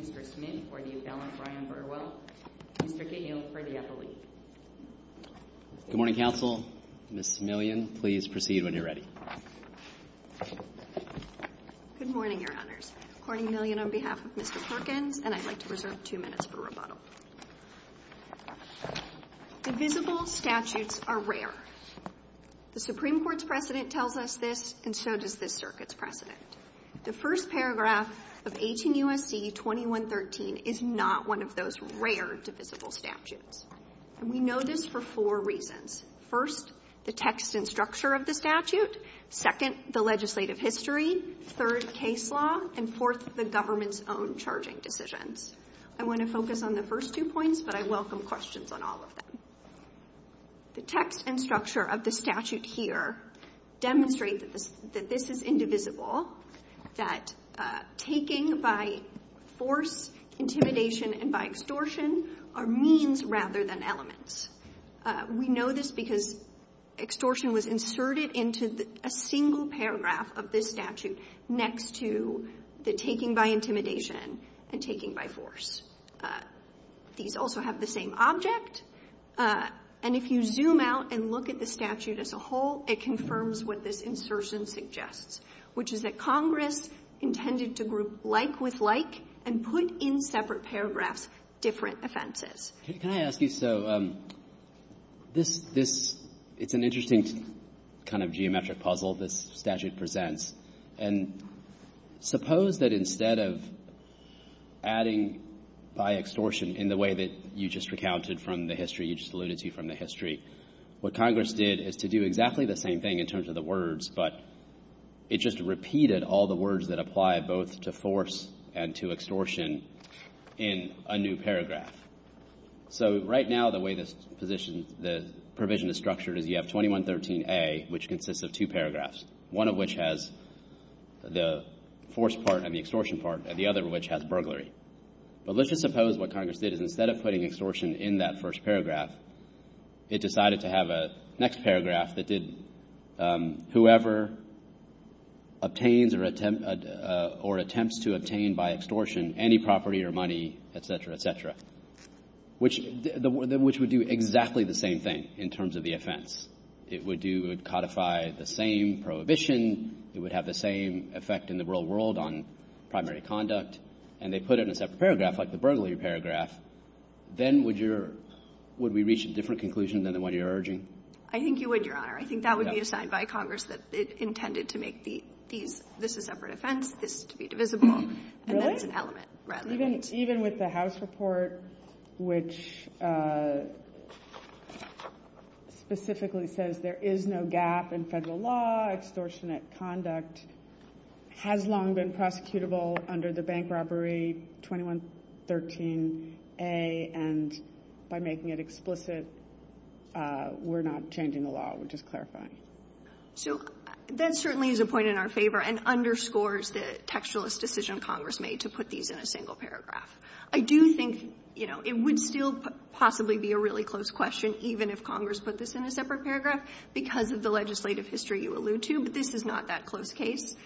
Mr. Smith for the Abellan-Bryan Burwell Mr. Gale for the Appellee Good morning, Council. Ms. Simeleon, please proceed when you're ready. Good morning, your honors. Courtney Milleon on behalf of Mr. Perkin, and I'd like to reserve two minutes for rebuttal. Divisible statutes are rare. The Supreme Court's precedent tells us this, and so does this circuit's precedent. The first paragraph of 18 U.S.C. 2113 is not one of those rare divisible statutes. We know this for four reasons. First, the text and structure of the statute. Second, the legislative history. Third, case law. And fourth, the government's own charging decision. I want to focus on the first two points, but I welcome questions on all of them. The text and structure of the statute here demonstrates that this is indivisible, that taking by force, intimidation, and by extortion are means rather than elements. We know this because extortion was inserted into a single paragraph of this statute next to the taking by intimidation and taking by force. These also have the same object, and if you zoom out and look at the statute as a whole, it confirms what this insertion suggests, which is that Congress intended to group like with like and put in separate paragraphs different offenses. Can I ask you, so this is an interesting kind of geometric puzzle this statute presents, and suppose that instead of adding by extortion in the way that you just recounted from the history, you just alluded to from the history, what Congress did is to do exactly the same thing in terms of the words, but it just repeated all the words that apply both to force and to extortion in a new paragraph. So right now the way this provision is structured is you have 2113A, which consists of two paragraphs, one of which has the force part and the extortion part, and the other of which has burglary. But let's just suppose what Congress did is instead of putting extortion in that first paragraph, it decided to have a next paragraph that did whoever obtains or attempts to obtain by extortion any property or money, etc., etc., which would do exactly the same thing in terms of the offense. It would codify the same prohibition. It would have the same effect in the real world on primary conduct, and they put it in a separate paragraph, like the burglary paragraph, then would we reach a different conclusion than the one you're urging? I think you would, Your Honor. I think that would be a sign by Congress that it's intended to make these, this is a separate offense, this is to be divisible, and that's an element rather than an element. Even with the House report, which specifically says there is no gap in federal law, that extortionate conduct has long been prosecutable under the Bank Robbery 2113A, and by making it explicit, we're not changing the law. We're just clarifying. So that certainly is a point in our favor and underscores the textualist decision Congress made to put these in a single paragraph. I do think, you know, it would still possibly be a really close question, even if Congress put this in a separate paragraph, because of the legislative history you allude to, but this is not that close a case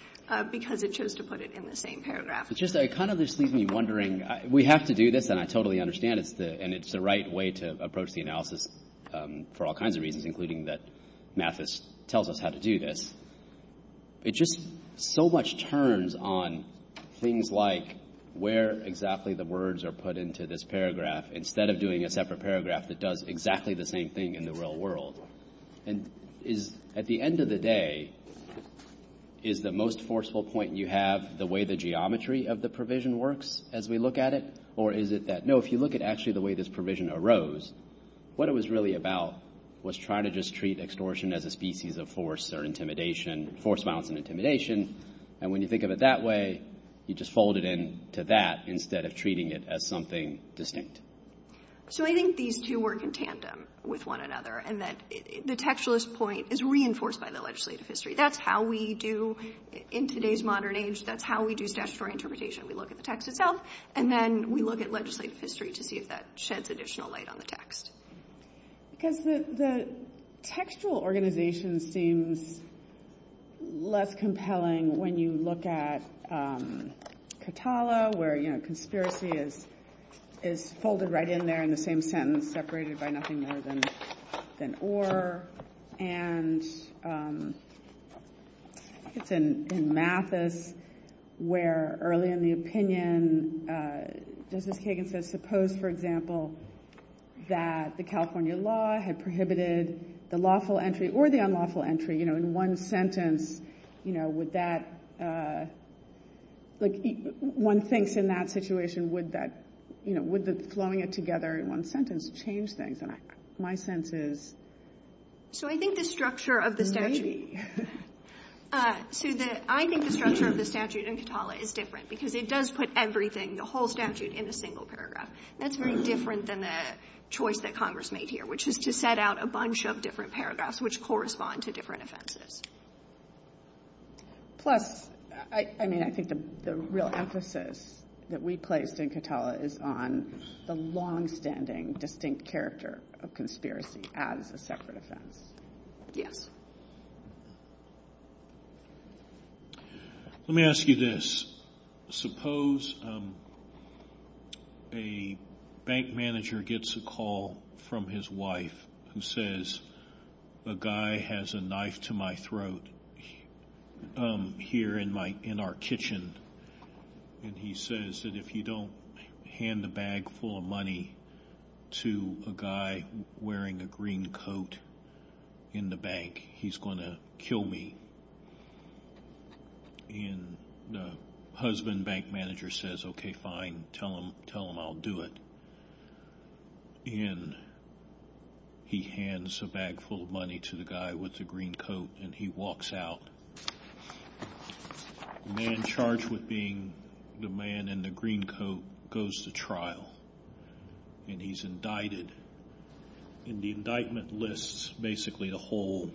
because it chose to put it in the same paragraph. It just kind of leaves me wondering, we have to do this, and I totally understand it, and it's the right way to approach the analysis for all kinds of reasons, including that Mathis tells us how to do this. It just so much turns on things like where exactly the words are put into this paragraph instead of doing a separate paragraph that does exactly the same thing in the real world. At the end of the day, is the most forceful point you have the way the geometry of the provision works as we look at it, or is it that, no, if you look at actually the way this provision arose, what it was really about was trying to just treat extortion as a species of force or intimidation, force, violence, and intimidation, and when you think of it that way, you just fold it into that instead of treating it as something distinct. So I think these two work in tandem with one another, and that the textualist point is reinforced by the legislative history. That's how we do, in today's modern age, that's how we do statutory interpretation. We look at the text itself, and then we look at legislative history to see if that sheds additional light on the text. Because the textual organization seems less compelling when you look at Catala, where conspiracy is folded right in there in the same sentence, separated by nothing more than or, and it's in Mathis, where early in the opinion, Justice Kagan says, suppose, for example, that the California law had prohibited the lawful entry or the unlawful entry, you know, in one sentence, you know, would that, like, one thinks in that situation, would that, you know, would slowing it together in one sentence change things? My sense is... So I think the structure of the statute in Catala is different, because it does put everything, the whole statute, in a single paragraph. That's very different than the choice that Congress made here, which is to set out a bunch of different paragraphs which correspond to different offenses. Plus, I mean, I think the real emphasis that we placed in Catala is on the long-standing distinct character of conspiracy as a separate offense. Let me ask you this, suppose a bank manager gets a call from his wife and says, a guy has a knife to my throat here in our kitchen, and he says that if you don't hand a bag full of money to a guy wearing a green coat in the bank, he's going to kill me. And the husband bank manager says, okay, fine, tell him I'll do it. And he hands a bag full of money to the guy with the green coat, and he walks out. The man charged with being the man in the green coat goes to trial, and he's indicted. And the indictment lists basically a whole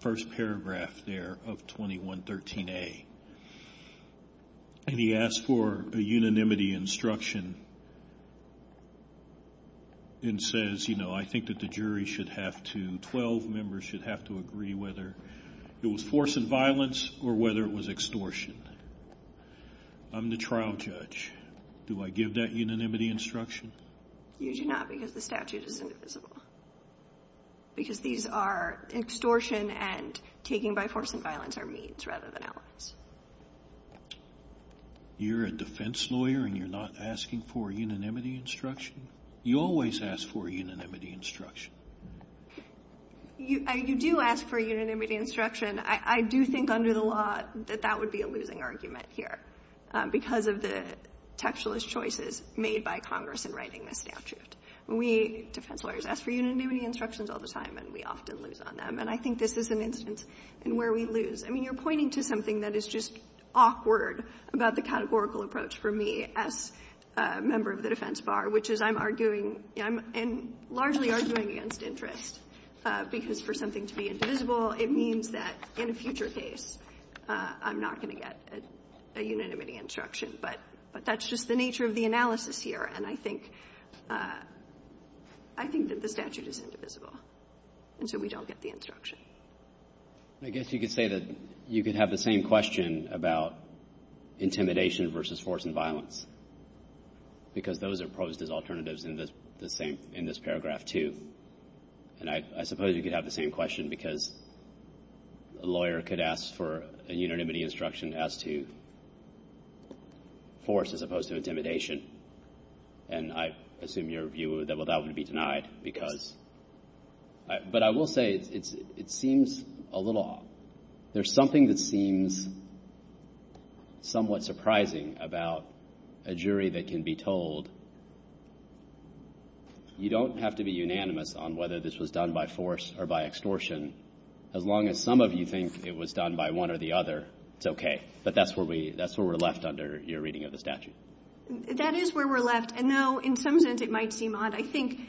first paragraph there of 2113A. And he asks for a unanimity instruction and says, you know, I think that the jury should have to, 12 members should have to agree whether it was force and violence or whether it was extortion. I'm the trial judge. Do I give that unanimity instruction? Usually not, because the statute is indivisible. Because these are extortion and taking by force and violence are means rather than else. You're a defense lawyer, and you're not asking for a unanimity instruction? You always ask for a unanimity instruction. You do ask for a unanimity instruction. I do think under the law that that would be a losing argument here, because of the textualist choices made by Congress in writing the statute. We defense lawyers ask for unanimity instructions all the time, and we often lose on them. And I think this is an instance in where we lose. I mean, you're pointing to something that is just awkward about the categorical approach for me as a member of the defense bar, which is I'm arguing and largely arguing against interest. Because for something to be indivisible, it means that in a future case, I'm not going to get a unanimity instruction. But that's just the nature of the analysis here. And I think that the statute is indivisible, and so we don't get the instruction. I guess you could say that you could have the same question about intimidation versus force and violence, because those are posed as alternatives in this paragraph, too. And I suppose you could have the same question, because a lawyer could ask for a unanimity instruction as to force as opposed to intimidation. And I assume your view is that that would be denied. But I will say it seems a little odd. There's something that seems somewhat surprising about a jury that can be told. You don't have to be unanimous on whether this was done by force or by extortion. As long as some of you think it was done by one or the other, it's okay. But that's where we're left under your reading of the statute. That is where we're left. And now, in some sense, it might seem odd. I think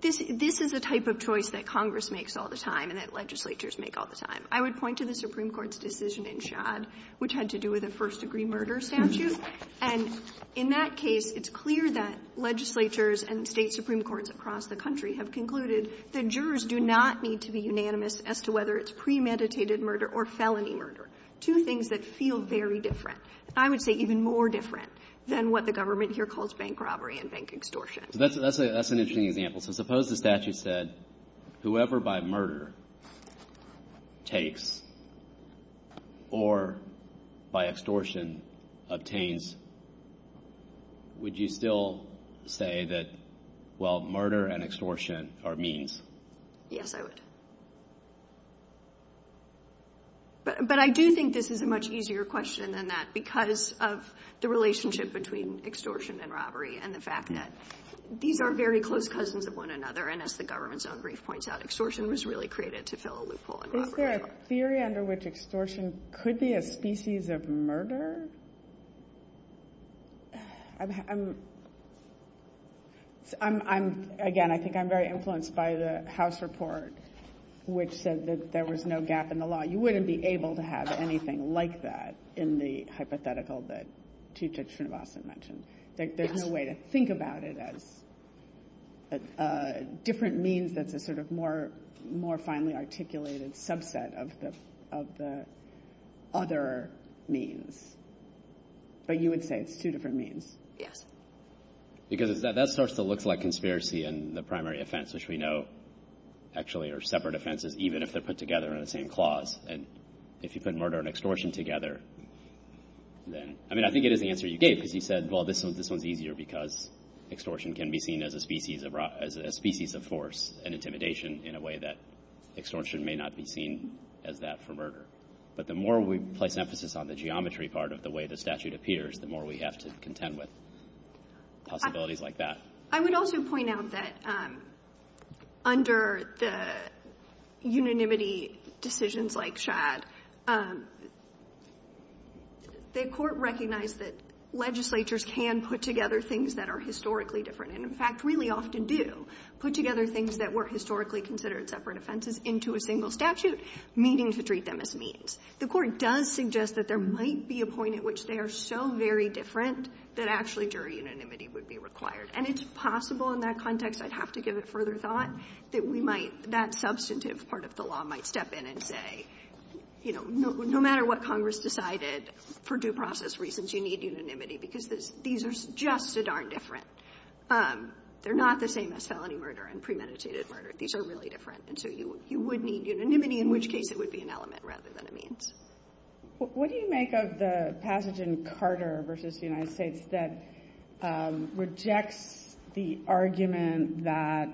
this is a type of choice that Congress makes all the time and that legislatures make all the time. I would point to the Supreme Court's decision in Schad, which had to do with a first-degree murder statute. And in that case, it's clear that legislatures and state supreme courts across the country have concluded that jurors do not need to be unanimous as to whether it's premeditated murder or felony murder. Two things that feel very different. I would say even more different than what the government here calls bank robbery and bank extortion. That's an interesting example. Suppose the statute said, whoever by murder takes or by extortion obtains, would you still say that murder and extortion are means? Yes, I would. But I do think this is a much easier question than that because of the relationship between extortion and robbery and the fact that these are very close cousins of one another. And as the government's own brief points out, extortion was really created to fill a loophole in robbery. Is there a theory under which extortion could be a species of murder? Again, I think I'm very influenced by the House report, which said that there was no gap in the law. You wouldn't be able to have anything like that in the hypothetical that Chief Judge Srinivasan mentioned. There's no way to think about it as a different means that's a sort of more finely articulated subset of the other means. But you would say it's two different means? Because that starts to look like conspiracy and the primary offense, which we know actually are separate offenses, even if they're put together in the same clause. And if you put murder and extortion together, then I mean, I think it is the answer you gave. Because you said, well, this one's easier because extortion can be seen as a species of force and intimidation in a way that extortion may not be seen as that for murder. But the more we place emphasis on the geometry part of the way the statute appears, the more we have to contend with possibilities like that. I would also point out that under the unanimity decisions like Chad, the court recognized that legislatures can put together things that are historically different, and in fact really often do put together things that were historically considered separate offenses into a single statute, meaning to treat them as means. The court does suggest that there might be a point at which they are so very different that actually jury unanimity would be required. And it's possible in that context, I'd have to give it further thought, that we might, that substantive part of the law might step in and say, you know, no matter what Congress decided, for due process reasons, you need unanimity because these are just so darn different. They're not the same as felony murder and premeditated murder. These are really different. And so you would need unanimity, in which case it would be an element rather than a means. What do you make of the passage in Carter v. United States that rejects the argument that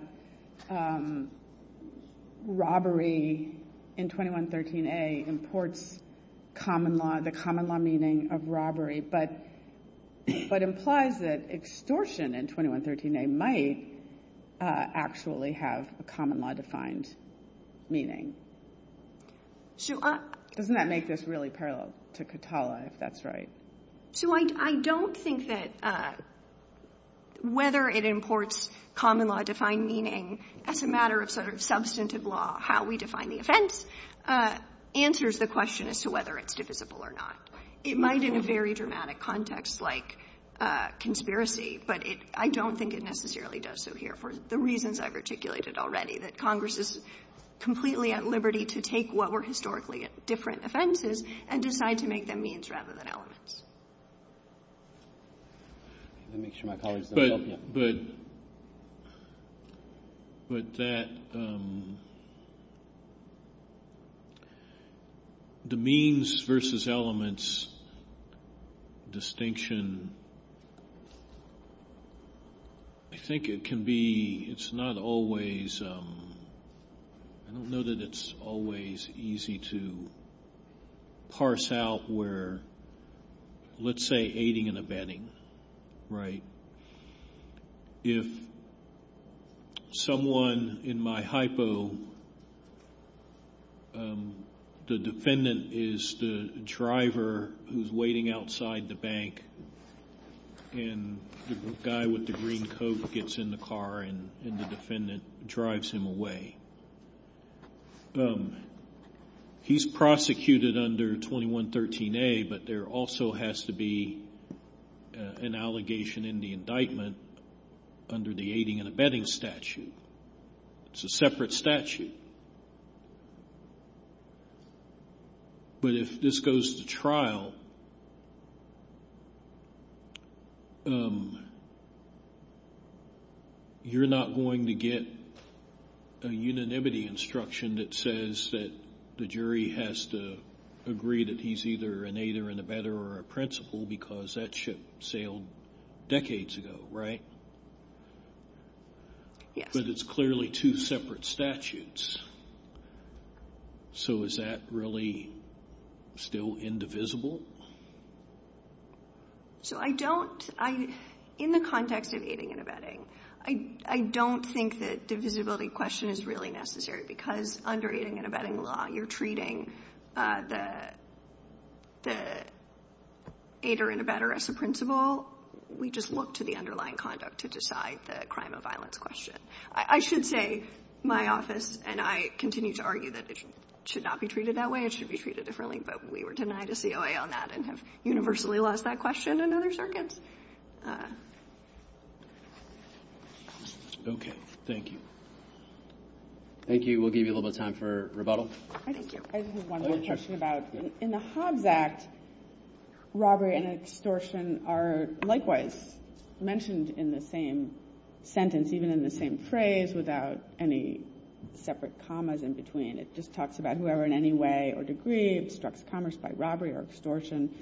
robbery in 2113A imports common law, the common law meaning of robbery, but implies that extortion in 2113A might actually have a common law defined meaning? Doesn't that make this really parallel to Catala, if that's right? So I don't think that whether it imports common law defined meaning, as a matter of sort of substantive law, how we define the offense, answers the question as to whether it's divisible or not. It might in a very dramatic context like conspiracy, but I don't think it necessarily does so here for the reasons I've articulated already, that Congress is completely at liberty to take what were historically different offenses and decide to make them means rather than elements. But the means versus elements distinction, I think it can be, it's not always, I don't know that it's always easy to parse out where let's say aiding and abetting. If someone in my hypo, the defendant is the driver who's waiting outside the bank and the guy with the green coat gets in the car and the defendant drives him away. He's prosecuted under 2113A, but there also has to be an allegation in the indictment under the aiding and abetting statute. It's a separate statute. But if this goes to trial, you're not going to get a unanimity instruction that says that the jury has to agree that he's either an aider and abetter or a principal because that ship sailed decades ago, right? But it's clearly two separate statutes. So is that really still indivisible? So I don't, in the context of aiding and abetting, I don't think that divisibility question is really necessary because under aiding and abetting law, you're treating the aider and abetter as the principal. We just look to the underlying conduct to decide the crime of violence question. I should say my office and I continue to argue that it should not be treated that way. It should be treated differently, but we were denied a COA on that and have universally lost that question in other circuits. Okay, thank you. Thank you. We'll give you a little bit of time for rebuttal. I just have one more question about in the Hobbs Act, robbery and extortion are likewise mentioned in the same sentence, even in the same phrase without any separate commas in between. It just talks about whoever in any way or degree obstructs commerce by robbery or extortion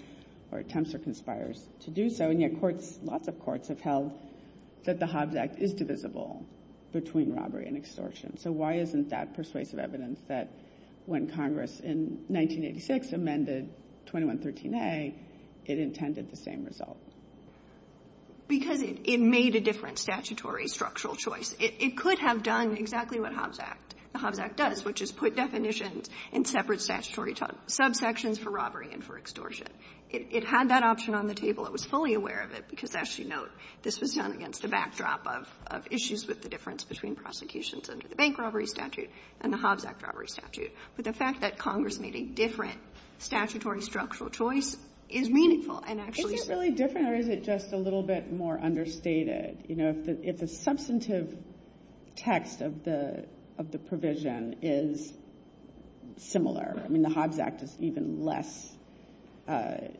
or attempts or conspires to do so, and yet courts, lots of courts have held that the Hobbs Act is divisible between robbery and extortion. So why isn't that persuasive evidence that when Congress in 1986 amended 2113A, it intended the same result? Because it made a different statutory structural choice. It could have done exactly what the Hobbs Act does, which is put definitions in separate statutory subsections for robbery and for extortion. It had that option on the table. It was fully aware of it because, as you note, this was done against the backdrop of issues with the difference between prosecutions under the bank robbery statute and the Hobbs Act robbery statute. But the fact that Congress made a different statutory structural choice is meaningful. Is it really different, or is it just a little bit more understated? If the substantive text of the provision is similar, I mean, the Hobbs Act is even less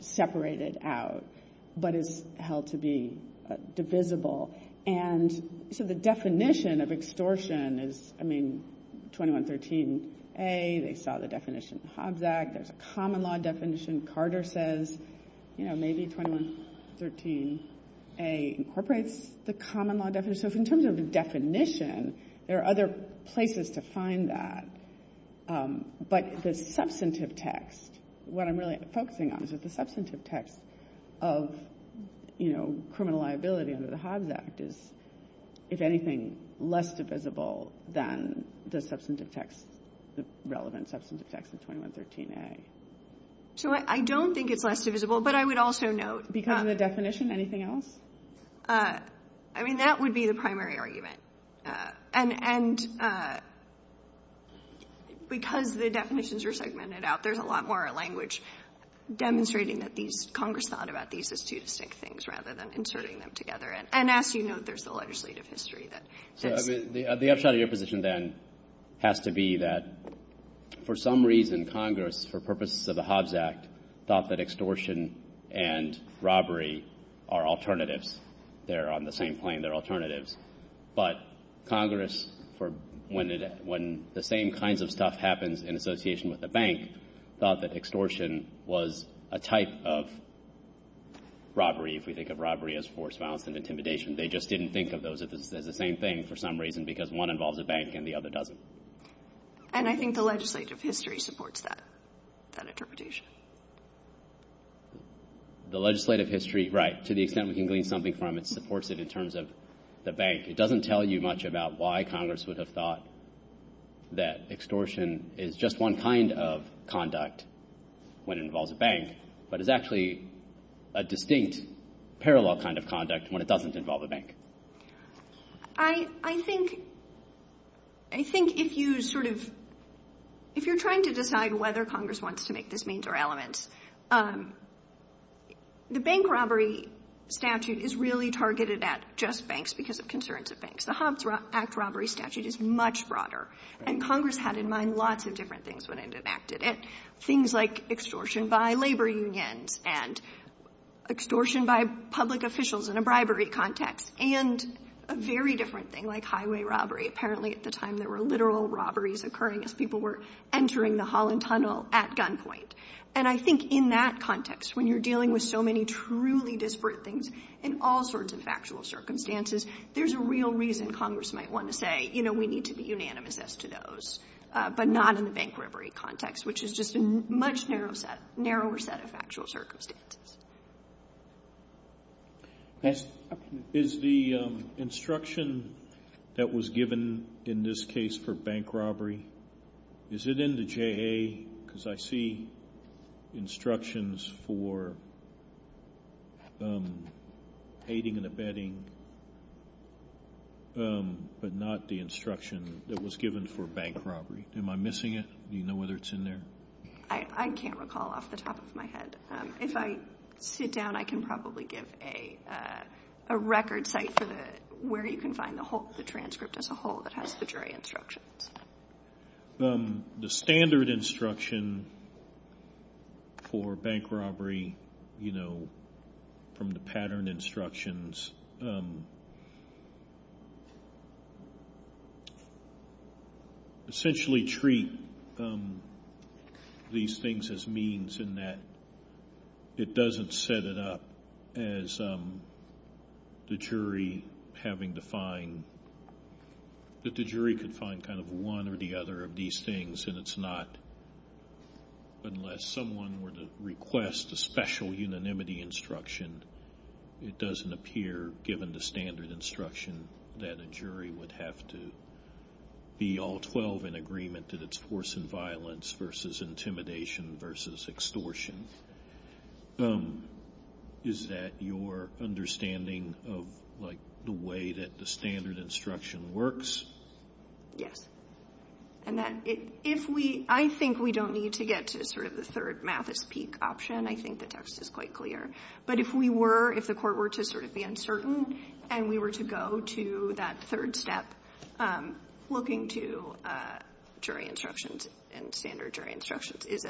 separated out, but it's held to be divisible. And so the definition of extortion is, I mean, 2113A, they saw the definition of the Hobbs Act. There's a common law definition Carter says, you know, maybe 2113A incorporates the common law definition. So in terms of the definition, there are other places to find that. But the substantive text, what I'm really focusing on is that the substantive text of, you know, criminal liability under the Hobbs Act is, if anything, less divisible than the substantive text, the relevant substantive text of 2113A. So I don't think it's less divisible, but I would also note... Because of the definition? Anything else? I mean, that would be the primary argument. And because the definitions are segmented out, there's a lot more language demonstrating that Congress thought about these as two distinct things rather than inserting them together. And as you know, there's a legislative history that... The upshot of your position then has to be that, for some reason, Congress, for purposes of the Hobbs Act, thought that extortion and robbery are alternatives. They're on the same plane. They're alternatives. But Congress, when the same kinds of stuff happens in association with the bank, thought that extortion was a type of robbery, if we think of robbery as force, violence, and intimidation. They just didn't think of those as the same thing, for some reason, because one involves a bank and the other doesn't. And I think the legislative history supports that interpretation. The legislative history, right, to the extent we can glean something from it, supports it in terms of the bank. It doesn't tell you much about why Congress would have thought that extortion is just one kind of conduct when it involves a bank, but it's actually a distinct, parallel kind of conduct when it doesn't involve a bank. I think if you sort of... If you're trying to decide whether Congress wants to make this means or elements, the bank robbery statute is really targeted at just banks because of concerns of banks. The Hobbs Act robbery statute is much broader, and Congress had in mind lots of different things when it enacted it, things like extortion by labor union and extortion by public officials in a bribery context, and a very different thing like highway robbery. Apparently, at the time, there were literal robberies occurring as people were entering the Holland Tunnel at gunpoint. And I think in that context, when you're dealing with so many truly disparate things in all sorts of factual circumstances, there's a real reason Congress might want to say, you know, we need to be unanimous as to those, but not in the bank robbery context, which is just a much narrower set of factual circumstances. Next. Is the instruction that was given in this case for bank robbery, is it in the JA because I see instructions for aiding and abetting, but not the instruction that was given for bank robbery? Am I missing it? Do you know whether it's in there? I can't recall off the top of my head. If I sit down, I can probably give a record site for where you can find the transcript as a whole that has the jury instructions. The standard instruction for bank robbery, you know, from the pattern instructions, does essentially treat these things as means in that it doesn't set it up as the jury having to find, that the jury can find kind of one or the other of these things, and it's not, unless someone were to request a special unanimity instruction, it doesn't appear, given the standard instruction, that a jury would have to be all 12 in agreement that it's force and violence versus intimidation versus extortion. Is that your understanding of, like, the way that the standard instruction works? Yes. Annette, if we, I think we don't need to get to sort of the third math is peak option. I think the text is quite clear. But if we were, if the court were to sort of be uncertain and we were to go to that third step, looking to jury instructions and standard jury instructions is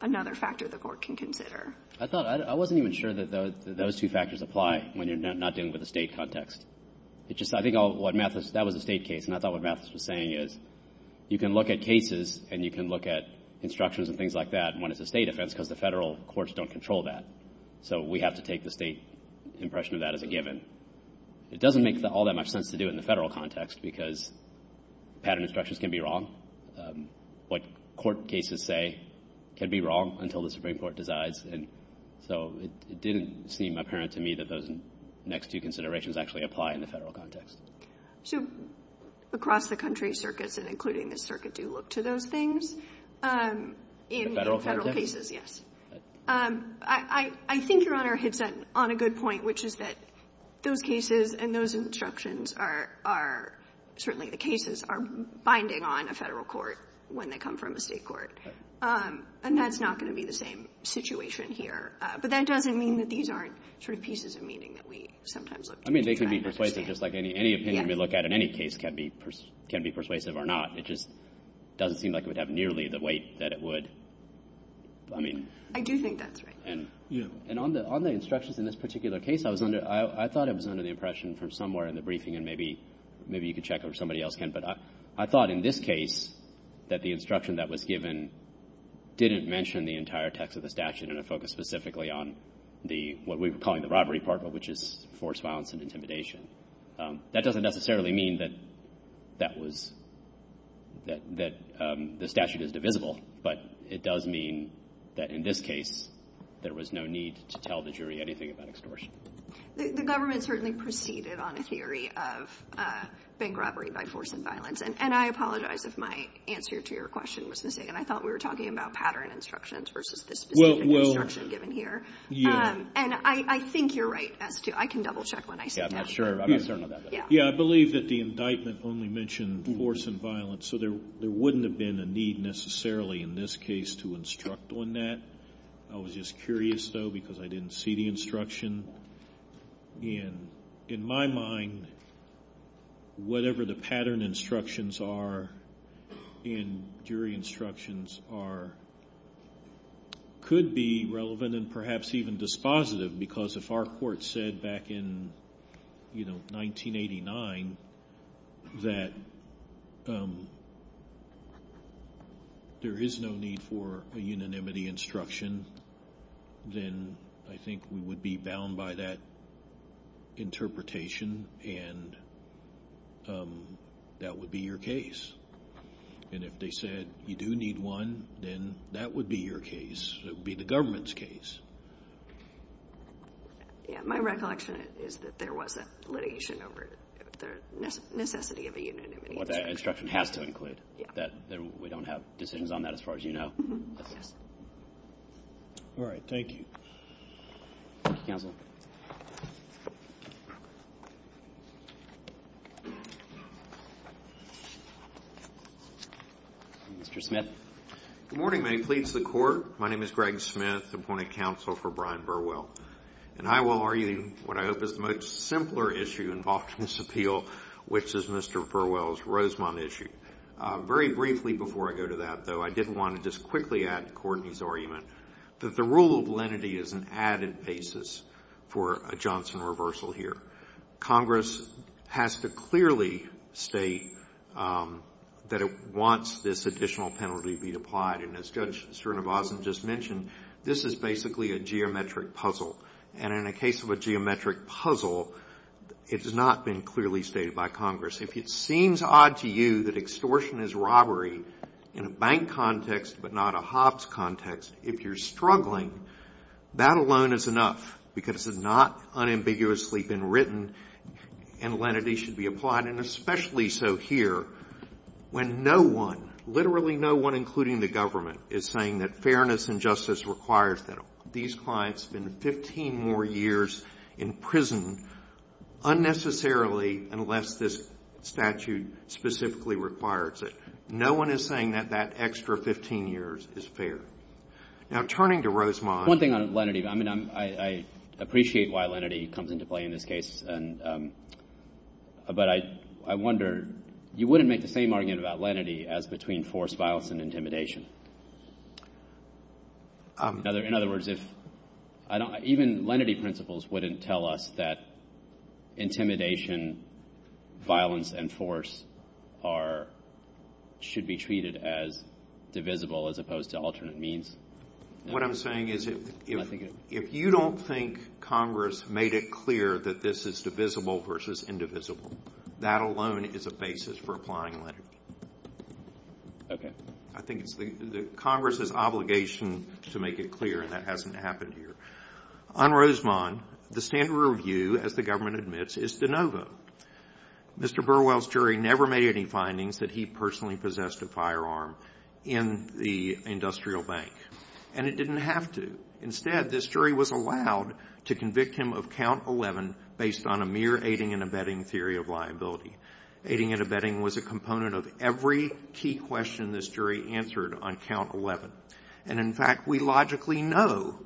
another factor the court can consider. I thought, I wasn't even sure that those two factors apply when you're not dealing with a state context. It's just, I think what Mathis, that was a state case, and I thought what Mathis was saying is you can look at cases and you can look at instructions and things like that when it's a state offense because the federal courts don't control that. So we have to take the state impression of that as a given. It doesn't make all that much sense to do it in the federal context because pattern instructions can be wrong. What court cases say can be wrong until the Supreme Court decides. And so it didn't seem apparent to me that those next two considerations actually apply in the federal context. So across the country circuits, including the circuit, do look to those things? In federal cases, yes. I think you're on a good point, which is that those cases and those instructions are, certainly the cases are binding on a federal court when they come from a state court. And that's not going to be the same situation here. But that doesn't mean that these aren't sort of pieces of meaning that we sometimes look to. I mean, they could be persuasive, just like any opinion we look at in any case can be persuasive or not. It just doesn't seem like it would have nearly the weight that it would. I do think that's right. And on the instructions in this particular case, I thought it was under the impression from somewhere in the briefing, and maybe you can check or somebody else can, but I thought in this case that the instruction that was given didn't mention the entire text of the statute and it focused specifically on what we were calling the robbery part, which is forced violence and intimidation. That doesn't necessarily mean that the statute is divisible, but it does mean that in this case there was no need to tell the jury anything about extortion. The government certainly proceeded on a theory of bank robbery by force and violence. And I apologize if my answer to your question was the same. I thought we were talking about pattern instructions versus this division of instruction given here. And I think you're right. I can double check when I see that. Yeah, I believe that the indictment only mentioned force and violence, so there wouldn't have been a need necessarily in this case to instruct on that. I was just curious, though, because I didn't see the instruction. And in my mind, whatever the pattern instructions are and jury instructions are could be relevant and perhaps even dispositive because if our court said back in 1989 that there is no need for a unanimity instruction, then I think we would be bound by that interpretation and that would be your case. And if they said you do need one, then that would be your case. It would be the government's case. My recollection is that there was a litigation over the necessity of a unanimity. Well, that instruction has to include that. Then we don't have decisions on that as far as you know. All right, thank you. Counsel. Mr. Smith. Good morning. May it please the Court. My name is Greg Smith, appointing counsel for Brian Burwell. And I will argue what I hope is the most simpler issue involved in this appeal, which is Mr. Burwell's Rosemont issue. Very briefly before I go to that, though, I did want to just quickly add Courtney's argument that the rule of lenity is an added basis for a Johnson reversal here. Congress has to clearly state that it wants this additional penalty to be applied. And as Judge Srinivasan just mentioned, this is basically a geometric puzzle. And in a case of a geometric puzzle, it has not been clearly stated by Congress. If it seems odd to you that extortion is robbery in a bank context but not a Hobbs context, if you're struggling, that alone is enough because it has not unambiguously been written and lenity should be applied, and especially so here when no one, literally no one including the government, is saying that fairness and justice requires them. These clients have been 15 more years in prison unnecessarily unless this statute specifically requires it. No one is saying that that extra 15 years is fair. Now, turning to Rosemont. One thing on lenity, I appreciate why lenity comes into play in this case. But I wonder, you wouldn't make the same argument about lenity as between forced violence and intimidation. In other words, even lenity principles wouldn't tell us that intimidation, violence, and force should be treated as divisible as opposed to alternate means. What I'm saying is if you don't think Congress made it clear that this is divisible versus indivisible, that alone is a basis for applying lenity. Okay. I think it's Congress's obligation to make it clear, and that hasn't happened here. On Rosemont, the standard review, as the government admits, is the no vote. Mr. Burwell's jury never made any findings that he personally possessed a firearm in the industrial bank, and it didn't have to. Instead, this jury was allowed to convict him of count 11 based on a mere aiding and abetting theory of liability. Aiding and abetting was a component of every key question this jury answered on count 11. And in fact, we logically know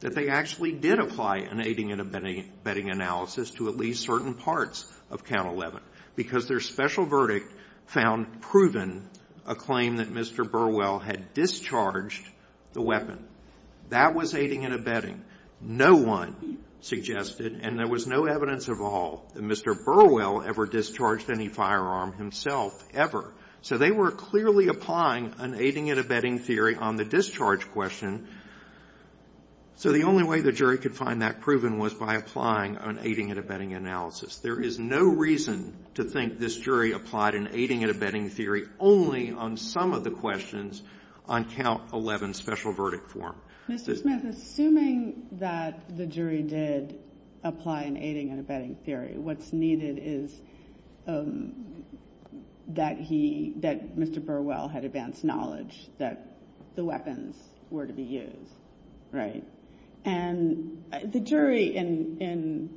that they actually did apply an aiding and abetting analysis to at least certain parts of count 11 because their special verdict found proven a claim that Mr. Burwell had discharged the weapon. That was aiding and abetting. No one suggested, and there was no evidence of all, that Mr. Burwell ever discharged any firearm himself, ever. So they were clearly applying an aiding and abetting theory on the discharge question. So the only way the jury could find that proven was by applying an aiding and abetting analysis. There is no reason to think this jury applied an aiding and abetting theory only on some of the questions on count 11's special verdict form. Ms. Smith, assuming that the jury did apply an aiding and abetting theory, what's needed is that Mr. Burwell had advanced knowledge that the weapons were to be used, right? And the jury, in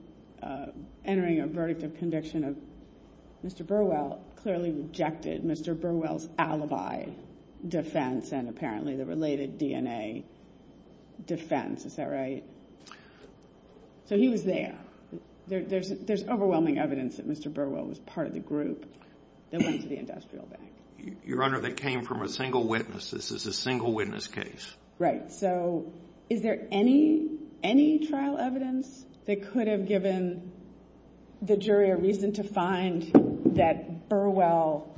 entering a verdict of conviction of Mr. Burwell, clearly rejected Mr. Burwell's alibi defense and apparently the related DNA defense, is that right? So he was there. There's overwhelming evidence that Mr. Burwell was part of the group that went to the industrial bank. Your Honor, that came from a single witness. This is a single witness case. Right. So is there any trial evidence that could have given the jury a reason to find that Burwell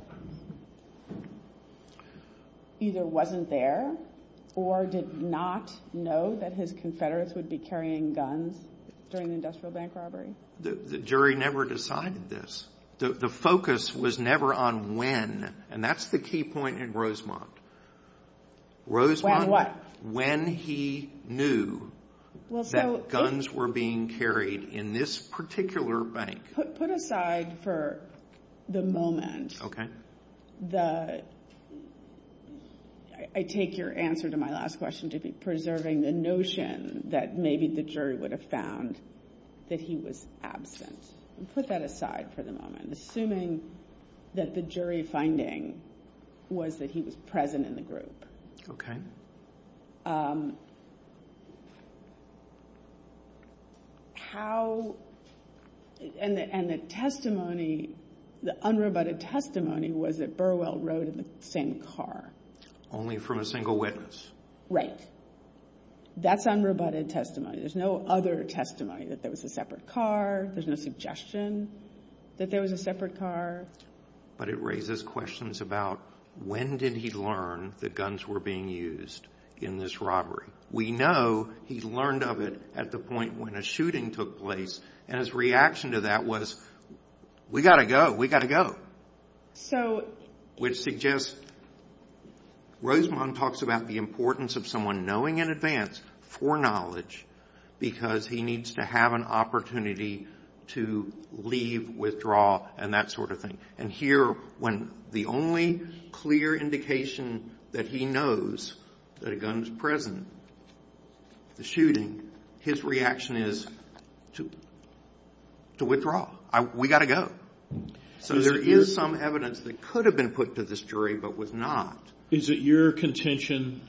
either wasn't there or did not know that his confederates would be carrying guns during the industrial bank robbery? The jury never decided this. The focus was never on when, and that's the key point in Rosemont. Rosemont? When what? When he knew that guns were being carried in this particular bank. Put aside for the moment. Okay. I take your answer to my last question to be preserving the notion that maybe the jury would have found that he was absent. Put that aside for the moment, assuming that the jury finding was that he was present in the group. How, and the testimony, the unrebutted testimony was that Burwell rode in the same car. Only from a single witness. Right. That's unrebutted testimony. There's no other testimony that there was a separate car. There's no suggestion that there was a separate car. But it raises questions about when did he learn that guns were being used in this robbery? We know he learned of it at the point when a shooting took place, and his reaction to that was, we've got to go, we've got to go. Which suggests, Rosemont talks about the importance of someone knowing in advance, for knowledge, because he needs to have an opportunity to leave, withdraw, and that sort of thing. And here, when the only clear indication that he knows that a gun was present, the shooting, his reaction is to withdraw. We've got to go. So there is some evidence that could have been put to this jury, but was not. Is it your contention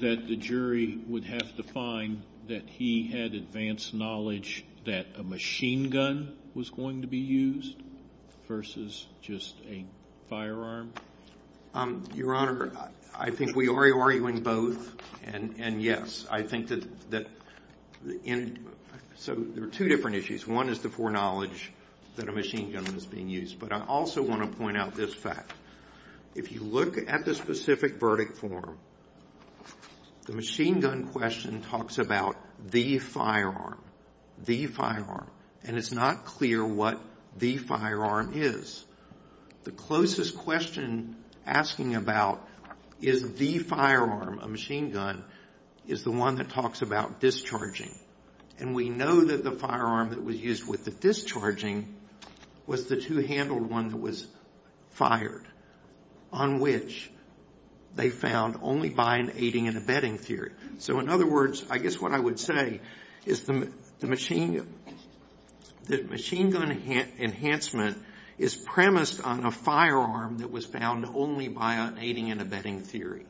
that the jury would have to find that he had advanced knowledge that a machine gun was going to be used, versus just a firearm? Your Honor, I think we are arguing both. And yes, I think that there are two different issues. One is the foreknowledge that a machine gun was being used. But I also want to point out this fact. If you look at the specific verdict form, the machine gun question talks about the firearm. The firearm. And it's not clear what the firearm is. The closest question asking about is the firearm, a machine gun, is the one that talks about discharging. And we know that the firearm that was used with the discharging was the two-handled one that was fired, on which they found only by an aiding and abetting theory. So, in other words, I guess what I would say is that machine gun enhancement is premised on a firearm that was found only by an aiding and abetting theory.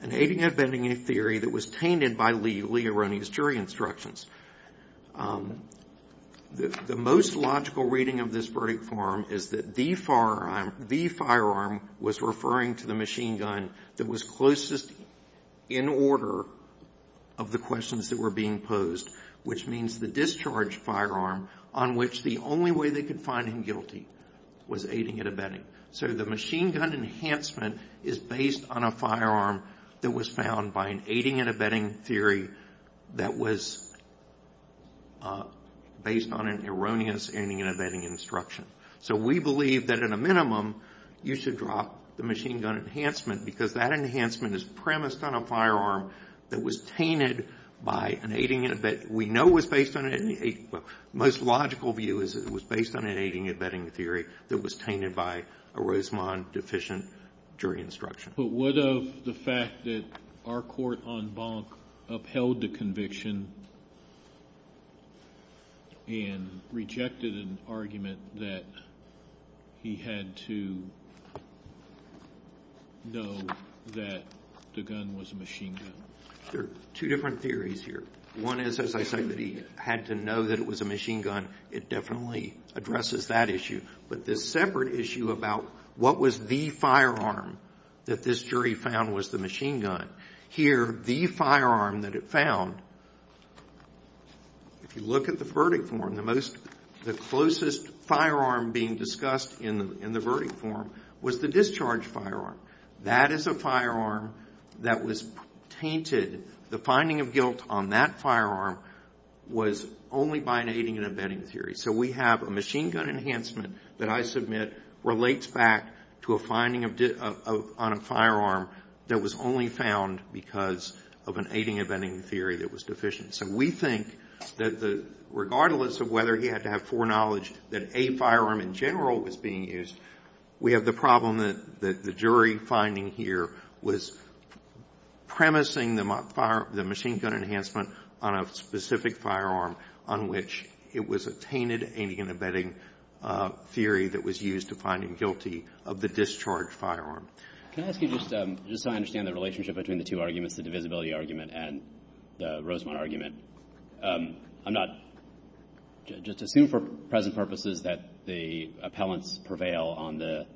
An aiding and abetting theory that was tainted by legally erroneous jury instructions. The most logical reading of this verdict form is that the firearm was referring to the machine gun that was closest in order of the questions that were being posed, which means the discharged firearm on which the only way they could find him guilty was aiding and abetting. So, the machine gun enhancement is based on a firearm that was found by an aiding and abetting theory that was based on an erroneous aiding and abetting instruction. So, we believe that, at a minimum, you should drop the machine gun enhancement because that enhancement is premised on a firearm that was tainted by an aiding and abetting. The most logical view is that it was based on an aiding and abetting theory that was tainted by a Rosamond deficient jury instruction. But what of the fact that our court on Bonk upheld the conviction and rejected an argument that he had to know that the gun was a machine gun? There are two different theories here. One is, as I say, that he had to know that it was a machine gun. It definitely addresses that issue. But the separate issue about what was the firearm that this jury found was the machine gun. Here, the firearm that it found, if you look at the verdict form, the closest firearm being discussed in the verdict form was the discharged firearm. That is a firearm that was tainted. The finding of guilt on that firearm was only by an aiding and abetting theory. So, we have a machine gun enhancement that I submit relates back to a finding on a firearm that was only found because of an aiding and abetting theory that was deficient. So, we think that regardless of whether he had to have foreknowledge that a firearm in general was being used, we have the problem that the jury finding here was premising the machine gun enhancement on a specific firearm on which it was a tainted aiding and abetting theory that was used to find him guilty of the discharged firearm. Can I ask you just to understand the relationship between the two arguments, the divisibility argument and the Rosemont argument? I'm not – just assume for present purposes that the appellants prevail on the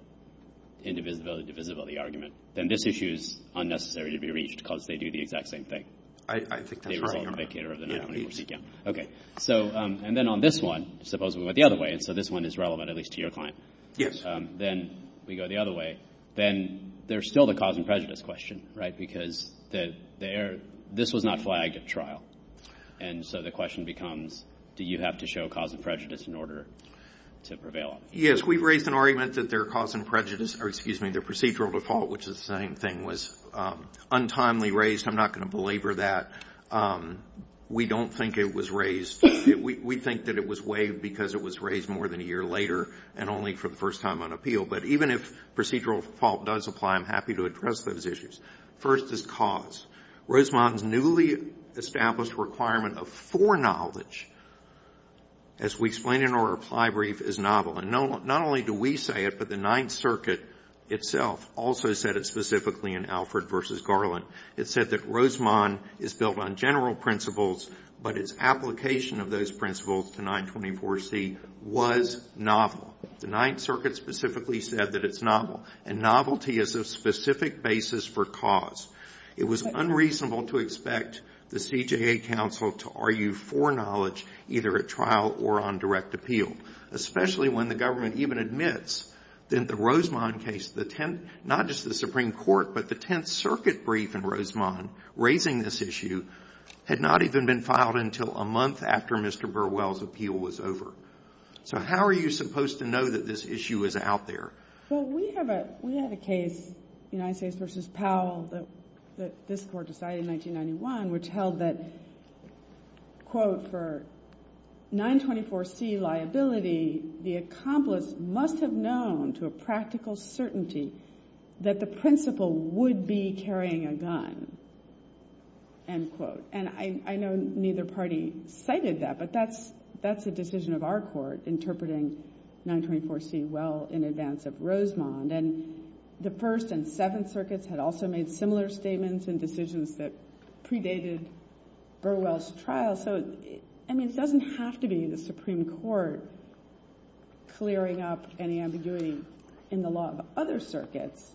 indivisibility-divisibility argument, then this issue is unnecessary to be reached because they do the exact same thing. I think that's correct. Okay. So, and then on this one, suppose we went the other way, so this one is relevant at least to your client. Yes. Then we go the other way. Then there's still the cause and prejudice question, right, because this was not flagged at trial. And so the question becomes, do you have to show cause and prejudice in order to prevail? Yes, we raised an argument that their cause and prejudice – or, excuse me, their procedural default, which is the same thing, was untimely raised. I'm not going to belabor that. We don't think it was raised – we think that it was waived because it was raised more than a year later and only for the first time on appeal. But even if procedural fault does apply, I'm happy to address those issues. First is cause. Rosemond's newly established requirement of foreknowledge, as we explained in our reply brief, is novel. And not only do we say it, but the Ninth Circuit itself also said it specifically in Alfred v. Garland. It said that Rosemond is built on general principles, but its application of those principles to 924C was novel. The Ninth Circuit specifically said that it's novel. And novelty is a specific basis for cause. It was unreasonable to expect the CJA counsel to argue foreknowledge either at trial or on direct appeal, especially when the government even admits that the Rosemond case, not just the Supreme Court, but the Tenth Circuit brief in Rosemond raising this issue, had not even been filed until a month after Mr. Burwell's appeal was over. So how are you supposed to know that this issue is out there? Well, we have a case, United States v. Powell, that this court decided in 1991, which held that, quote, for 924C liability, the accomplice must have known to a practical certainty that the principal would be carrying a gun, end quote. And I know neither party cited that, but that's a decision of our court, interpreting 924C well in advance of Rosemond. And the First and Second Circuits had also made similar statements and decisions that predated Burwell's trial. And it doesn't have to be the Supreme Court clearing up any ambiguity in the law of other circuits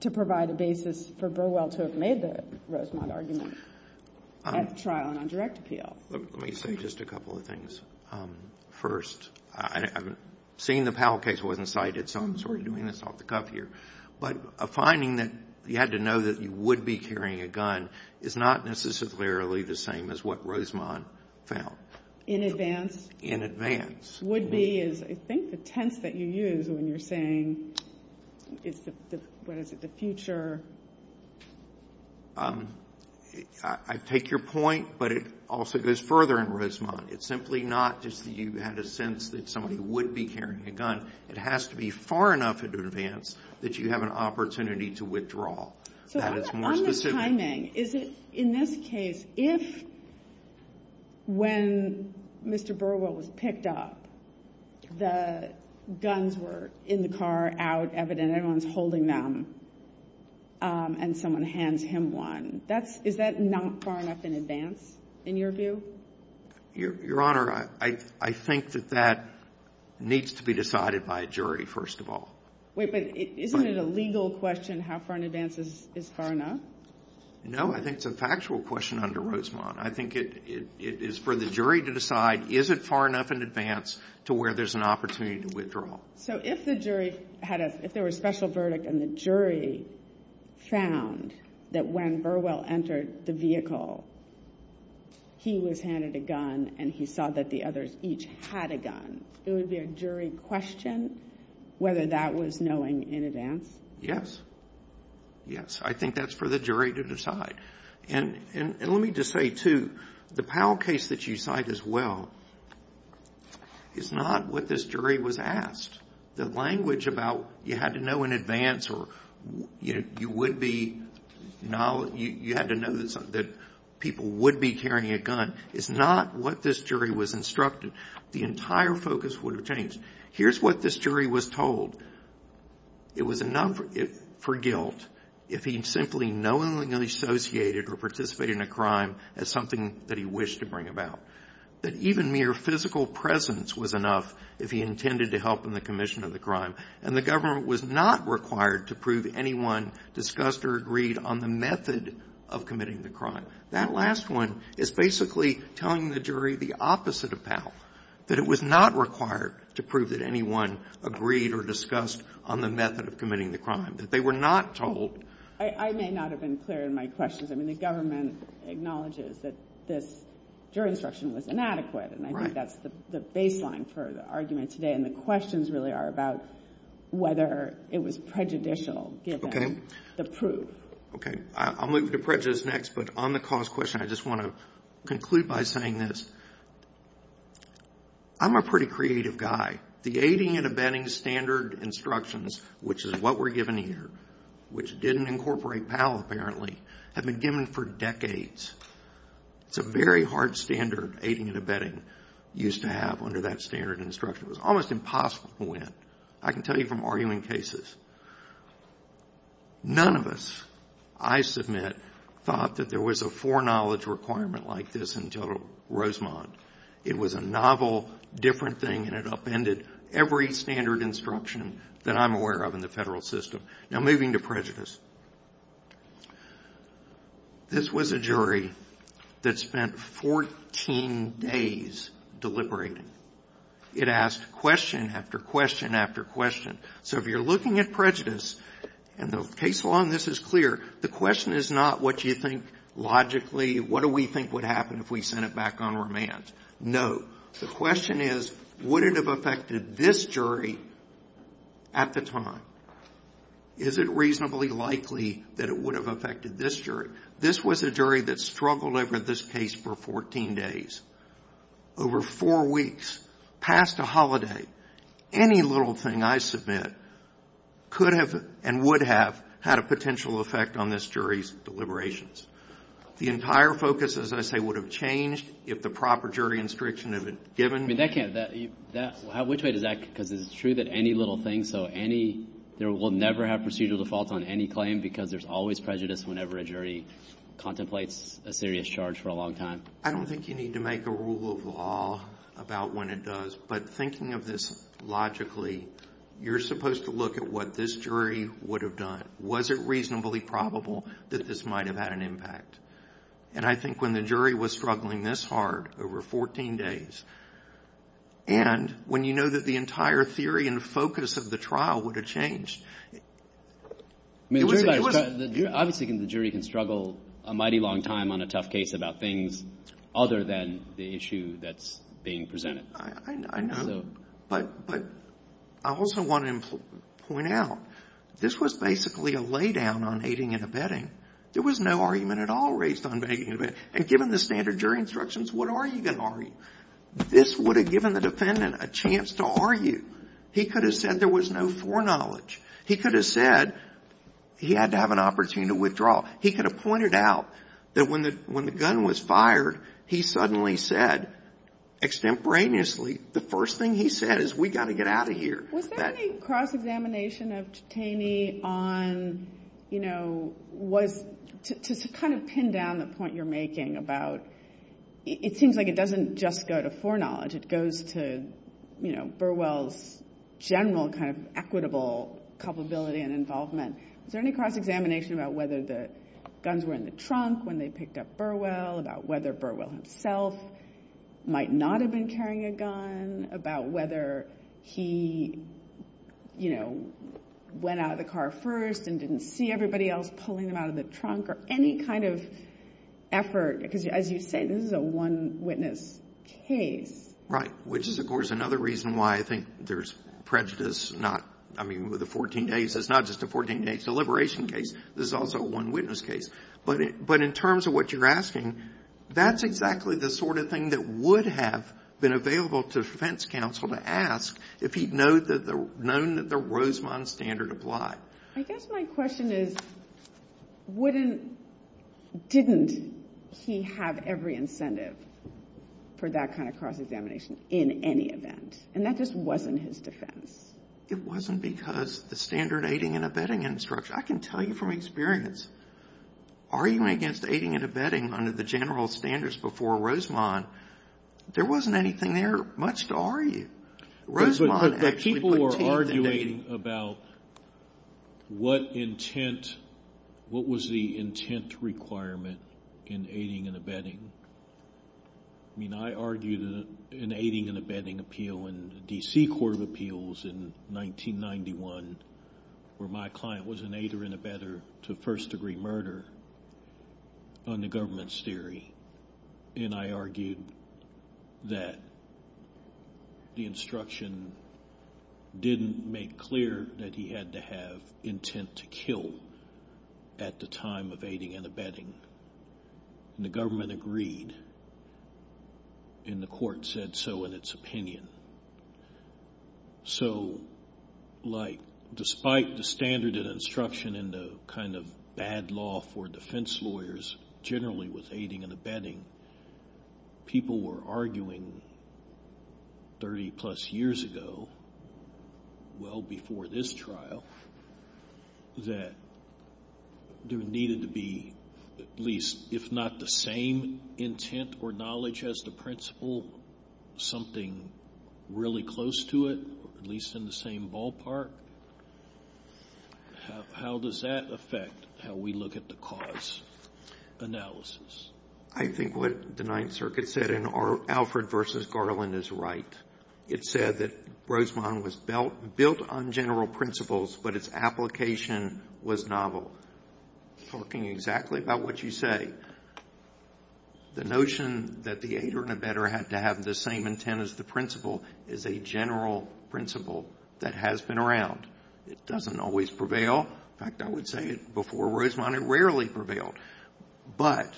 to provide a basis for Burwell to have made the Rosemond argument at trial and on direct appeal. Let me say just a couple of things. First, seeing the Powell case wasn't cited, so I'm sort of doing this off the cuff here. But a finding that you had to know that you would be carrying a gun is not necessarily the same as what Rosemond found. In advance? In advance. Would be is, I think, the tense that you use when you're saying, what is it, the future? I take your point, but it also goes further in Rosemond. It's simply not just that you had a sense that somebody would be carrying a gun. It has to be far enough in advance that you have an opportunity to withdraw. But on the timing, is it, in this case, if when Mr. Burwell was picked up, the guns were in the car, out, evident, everyone's holding them, and someone hands him one, is that not far enough in advance, in your view? Your Honor, I think that that needs to be decided by a jury, first of all. Wait, but isn't it a legal question how far in advance is far enough? No, I think it's a factual question under Rosemond. I think it is for the jury to decide, is it far enough in advance to where there's an opportunity to withdraw? So if the jury had a, if there was a special verdict and the jury found that when Burwell entered the vehicle, he was handed a gun and he saw that the others each had a gun, would there be a jury question whether that was knowing in advance? Yes. Yes, I think that's for the jury to decide. And let me just say, too, the Powell case that you cite as well is not what this jury was asked. The language about you had to know in advance or you would be, you had to know that people would be carrying a gun, is not what this jury was instructed. The entire focus would have changed. Here's what this jury was told. It was enough for guilt if he simply knowingly associated or participated in a crime as something that he wished to bring about. That even mere physical presence was enough if he intended to help in the commission of the crime. And the government was not required to prove anyone discussed or agreed on the method of committing the crime. That last one is basically telling the jury the opposite of Powell, that it was not required to prove that anyone agreed or discussed on the method of committing the crime. That they were not told. I may not have been clear in my questions. I mean, the government acknowledges that this jury instruction was inadequate. And I think that's the baseline for the argument today. And the questions really are about whether it was prejudicial given the proof. Okay, I'll move to prejudice next. But on the cause question, I just want to conclude by saying this. I'm a pretty creative guy. The aiding and abetting standard instructions, which is what we're given here, which didn't incorporate Powell apparently, have been given for decades. It's a very hard standard, aiding and abetting, used to have under that standard instruction. It was almost impossible to win. I can tell you from arguing cases. None of us, I submit, thought that there was a foreknowledge requirement like this until Rosemont. It was a novel, different thing, and it upended every standard instruction that I'm aware of in the federal system. Now, moving to prejudice. This was a jury that spent 14 days deliberating. It asked question after question after question. So if you're looking at prejudice, and the case law in this is clear, the question is not what you think logically, what do we think would happen if we sent it back on remand. No. The question is, would it have affected this jury at the time? Is it reasonably likely that it would have affected this jury? This was a jury that struggled over this case for 14 days, over four weeks, past a holiday. Any little thing, I submit, could have and would have had a potential effect on this jury's deliberations. The entire focus, as I say, would have changed if the proper jury instruction had been given. Which way to that? Because it's true that any little thing, so there will never have procedural defaults on any claim because there's always prejudice whenever a jury contemplates a serious charge for a long time. I don't think you need to make a rule of law about when it does, but thinking of this logically, you're supposed to look at what this jury would have done. Was it reasonably probable that this might have had an impact? And I think when the jury was struggling this hard over 14 days, and when you know that the entire theory and focus of the trial would have changed. Obviously the jury can struggle a mighty long time on a tough case about things other than the issue that's being presented. I know, but I also want to point out, this was basically a lay down on aiding and abetting. There was no argument at all raised on aiding and abetting. And given the standard jury instructions, what are you going to argue? This would have given the defendant a chance to argue. He could have said there was no foreknowledge. He could have said he had to have an opportunity to withdraw. He could have pointed out that when the gun was fired, he suddenly said, extemporaneously, the first thing he said is we've got to get out of here. Was there any cross-examination of Titani on, you know, to kind of pin down the point you're making about it seems like it doesn't just go to foreknowledge. It goes to, you know, Burwell's general kind of equitable culpability and involvement. Is there any cross-examination about whether the guns were in the trunk when they picked up Burwell, about whether Burwell himself might not have been carrying a gun, about whether he, you know, went out of the car first and didn't see everybody else pulling him out of the trunk, or any kind of effort. Because, as you say, this is a one-witness case. Right, which is, of course, another reason why I think there's prejudice. I mean, with the 14 days, it's not just a 14-day deliberation case. This is also a one-witness case. But in terms of what you're asking, that's exactly the sort of thing that would have been available to the defense counsel to ask if he'd known that the Rosemond standard applied. I guess my question is, wouldn't, didn't he have every incentive for that kind of cross-examination in any event? And that just wasn't his defense. It wasn't because of the standard aiding and abetting infrastructure. I can tell you from experience, arguing against aiding and abetting under the general standards before Rosemond, there wasn't anything there, much to argue. But people were arguing about what intent, what was the intent requirement in aiding and abetting. I mean, I argued an aiding and abetting appeal in the D.C. Court of Appeals in 1991, where my client was an aider and abetter to first-degree murder on the government's theory. And I argued that the instruction didn't make clear that he had to have intent to kill at the time of aiding and abetting. And the government agreed. And the court said so in its opinion. So, like, despite the standard and instruction and the kind of bad law for defense lawyers generally with aiding and abetting, people were arguing 30-plus years ago, well before this trial, that there needed to be at least, if not the same intent or knowledge as the principal, something really close to it, at least in the same ballpark. How does that affect how we look at the cause analysis? I think what the Ninth Circuit said in Alfred v. Garland is right. It said that Rosemont was built on general principles, but its application was novel. It's talking exactly about what you say. The notion that the aider and abetter had to have the same intent as the principal is a general principle that has been around. It doesn't always prevail. In fact, I would say before Rosemont, it rarely prevailed. But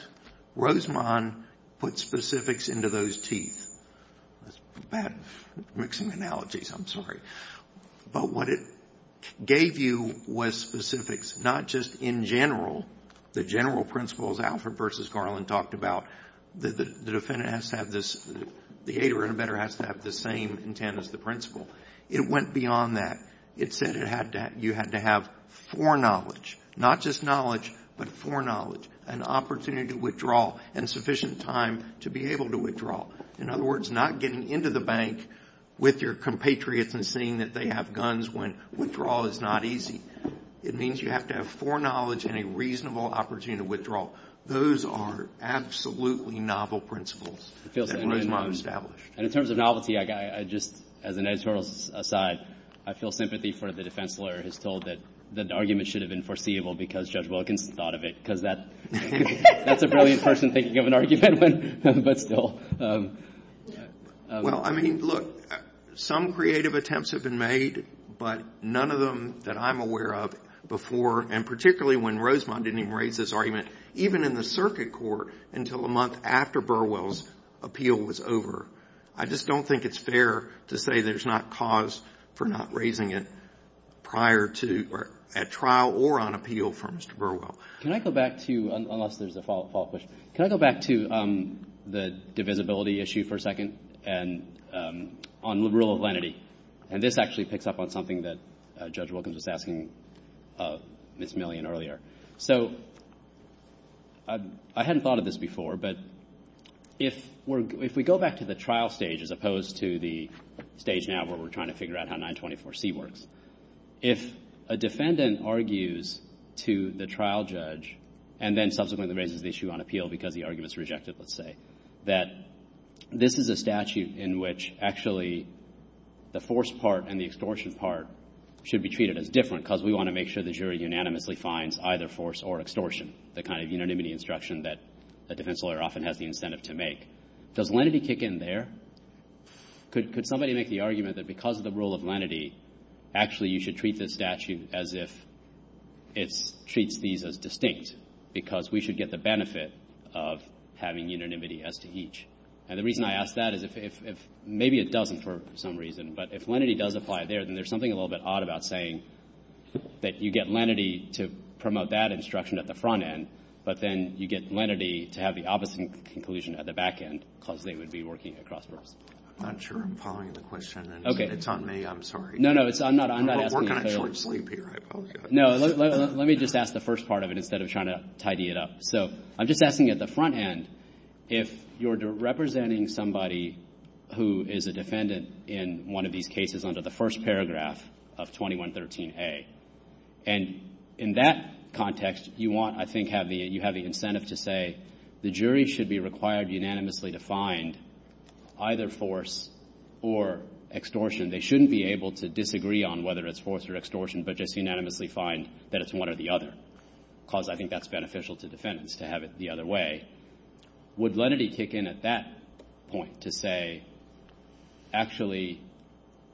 Rosemont put specifics into those teeth. That's bad mixing analogies. I'm sorry. But what it gave you was specifics, not just in general. The general principles Alfred v. Garland talked about, the aider and abetter has to have the same intent as the principal. It went beyond that. It said you had to have foreknowledge, not just knowledge, but foreknowledge, an opportunity to withdraw and sufficient time to be able to withdraw. In other words, not getting into the bank with your compatriots and seeing that they have guns when withdrawal is not easy. It means you have to have foreknowledge and a reasonable opportunity to withdraw. Those are absolutely novel principles that Rosemont established. And in terms of novelty, as an editorial aside, I feel sympathy for the defense lawyer who's told that the argument should have been foreseeable because Judge Wilkinson thought of it because that's a brilliant person thinking of an argument. Well, I mean, look, some creative attempts have been made, but none of them that I'm aware of before, and particularly when Rosemont didn't even raise this argument, even in the circuit court until a month after Burwell's appeal was over. I just don't think it's fair to say there's not cause for not raising it prior to, at trial or on appeal, for Mr. Burwell. Can I go back to, unless there's a follow-up question, can I go back to the divisibility issue for a second and on the rule of lenity? And this actually picks up on something that Judge Wilkinson was asking Ms. Millian earlier. So I hadn't thought of this before, but if we go back to the trial stage, as opposed to the stage now where we're trying to figure out how 924C works, if a defendant argues to the trial judge and then subsequently raises the issue on appeal because the argument's rejected, let's say, that this is a statute in which actually the force part and the extortion part should be treated as different because we want to make sure the jury unanimously finds either force or extortion, the kind of unanimity instruction that a defense lawyer often has the incentive to make. Does lenity kick in there? Could somebody make the argument that because of the rule of lenity, actually you should treat this statute as if it treats these as distinct because we should get the benefit of having unanimity as to each? And the reason I ask that is if maybe it doesn't for some reason, but if lenity does apply there, then there's something a little bit odd about saying that you get lenity to promote that instruction at the front end, but then you get lenity to have the opposite conclusion at the back end because they would be working across the room. I'm not sure I'm following the question. Okay. If it's on me, I'm sorry. No, no, I'm not asking. We're kind of falling asleep here. No, let me just ask the first part of it instead of trying to tidy it up. So I'm just asking at the front end if you're representing somebody who is a defendant in one of these cases under the first paragraph of 2113A. And in that context, you want, I think you have the incentive to say the jury should be required unanimously to find either force or extortion. They shouldn't be able to disagree on whether it's force or extortion, but just unanimously find that it's one or the other because I think that's beneficial to defendants to have it the other way. Would lenity kick in at that point to say, actually,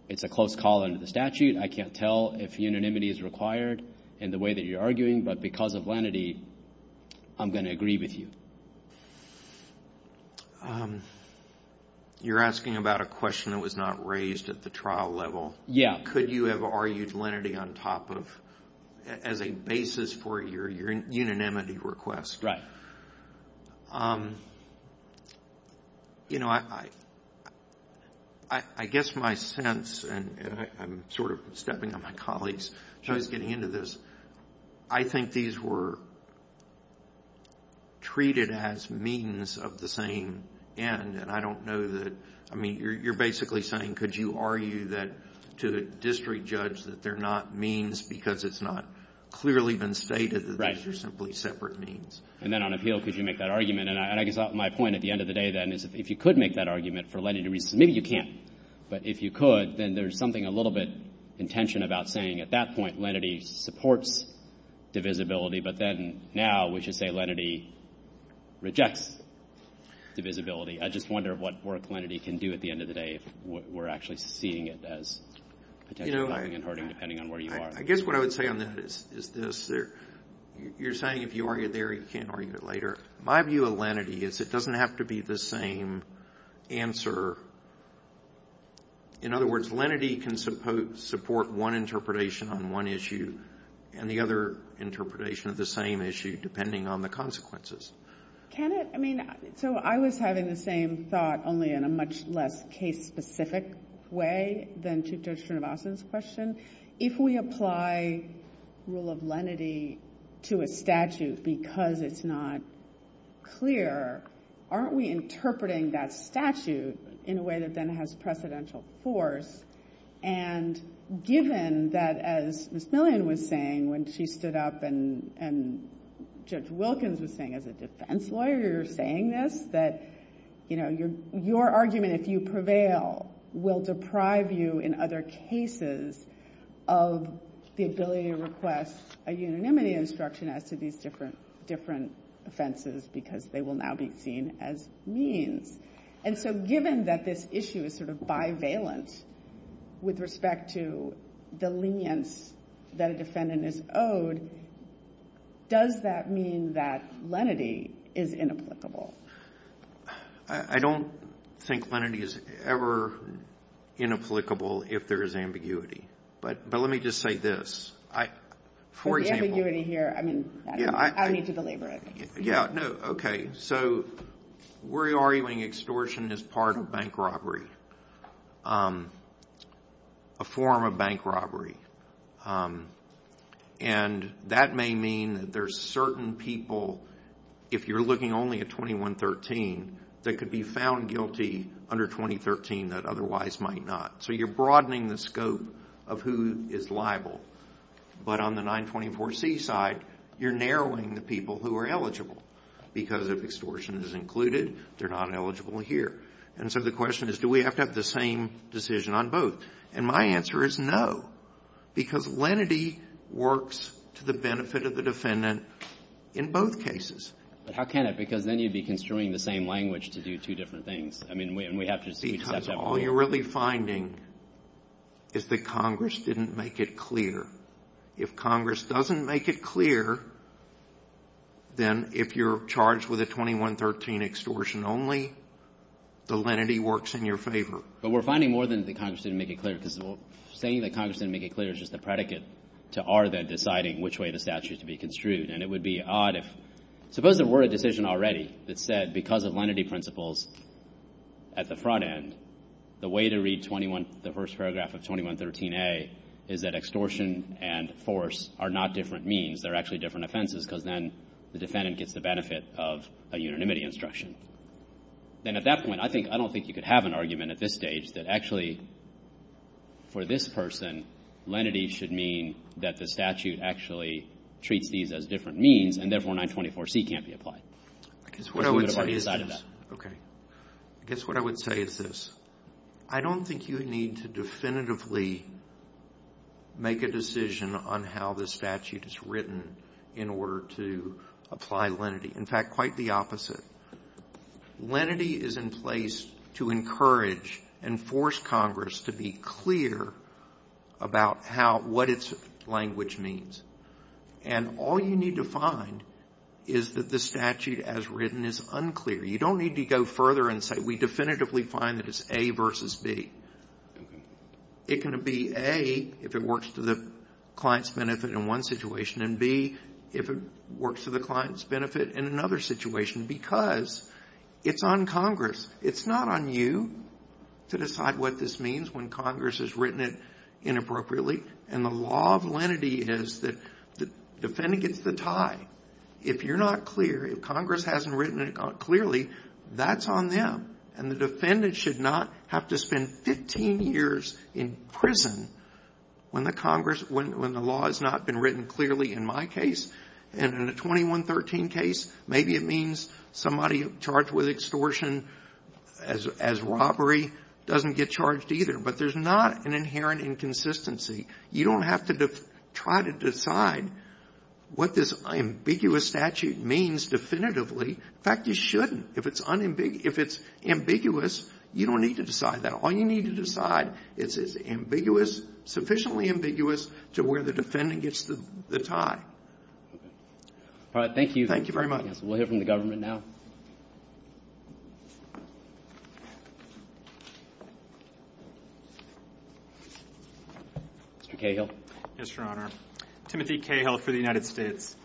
it's a close call under the statute. I can't tell if unanimity is required in the way that you're arguing, but because of lenity, I'm going to agree with you. You're asking about a question that was not raised at the trial level. Yeah. Could you have argued lenity on top of, as a basis for your unanimity request? You know, I guess my sense, and I'm sort of stepping on my colleagues so I can get into this, I think these were treated as means of the same end. And I don't know that, I mean, you're basically saying, could you argue that to the district judge that they're not means because it's not clearly been stated that they're simply separate means. And then on appeal, could you make that argument? And I guess my point at the end of the day then is if you could make that argument for lenity reasons, maybe you can't. But if you could, then there's something a little bit in tension about saying at that point, lenity supports divisibility, but then now we should say lenity rejects divisibility. I just wonder what work lenity can do at the end of the day if we're actually seeing it as potentially harming and hurting depending on where you are. I guess what I would say on that is this. You're saying if you argue it there, you can't argue it later. My view of lenity is it doesn't have to be the same answer. In other words, lenity can support one interpretation on one issue and the other interpretation of the same issue depending on the consequences. So I was having the same thought only in a much less case-specific way than to Judge Trinivasan's question. If we apply rule of lenity to a statute because it's not clear, aren't we interpreting that statute in a way that then has precedential force? And given that, as Ms. Millian was saying when she stood up and Judge Wilkins was saying as a defense lawyer you're saying this, that your argument, if you prevail, will deprive you in other cases of the ability to request a unanimity instruction as to these different offenses because they will now be seen as mean. And so given that this issue is sort of bivalent with respect to the lenience that a defendant is owed, does that mean that lenity is inapplicable? I don't think lenity is ever inapplicable if there is ambiguity. But let me just say this. For the ambiguity here, I mean, I don't need to belabor it. Yeah, no, okay. So we're arguing extortion is part of bank robbery, a form of bank robbery. And that may mean that there's certain people, if you're looking only at 2113, that could be found guilty under 2013 that otherwise might not. So you're broadening the scope of who is liable. But on the 924C side, you're narrowing the people who are eligible because if extortion is included, they're not eligible here. And so the question is do we have to have the same decision on both? And my answer is no because lenity works to the benefit of the defendant in both cases. But how can it? Because then you'd be construing the same language to do two different things. I mean, we have to see if that's applicable. All you're really finding is that Congress didn't make it clear. If Congress doesn't make it clear, then if you're charged with a 2113 extortion only, the lenity works in your favor. But we're finding more than the Congress didn't make it clear because saying that Congress didn't make it clear is just a predicate to our then deciding which way the statute is to be construed. And it would be odd if, suppose there were a decision already that said that because of lenity principles at the front end, the way to read the first paragraph of 2113A is that extortion and force are not different means. They're actually different offenses because then the defendant gets the benefit of a unanimity instruction. Then at that point, I don't think you could have an argument at this stage that actually for this person, lenity should mean that the statute actually treats these as different means and therefore 924C can't be applied. I guess what I would say is this. I don't think you need to definitively make a decision on how the statute is written in order to apply lenity. In fact, quite the opposite. Lenity is in place to encourage and force Congress to be clear about what its language means. And all you need to find is that the statute as written is unclear. You don't need to go further and say we definitively find that it's A versus B. It can be A if it works to the client's benefit in one situation and B if it works to the client's benefit in another situation because it's on Congress. It's not on you to decide what this means when Congress has written it inappropriately. And the law of lenity is the defendant gets the tie. If you're not clear, if Congress hasn't written it clearly, that's on them. And the defendant should not have to spend 15 years in prison when the law has not been written clearly in my case. And in a 2113 case, maybe it means somebody charged with extortion as robbery doesn't get charged either. But there's not an inherent inconsistency. You don't have to try to decide what this ambiguous statute means definitively. In fact, you shouldn't. If it's ambiguous, you don't need to decide that. All you need to decide is it's ambiguous, sufficiently ambiguous, to where the defendant gets the tie. All right, thank you. Thank you very much. We'll hear from the government now. Mr. Cahill. Yes, Your Honor. Timothy Cahill for the United States.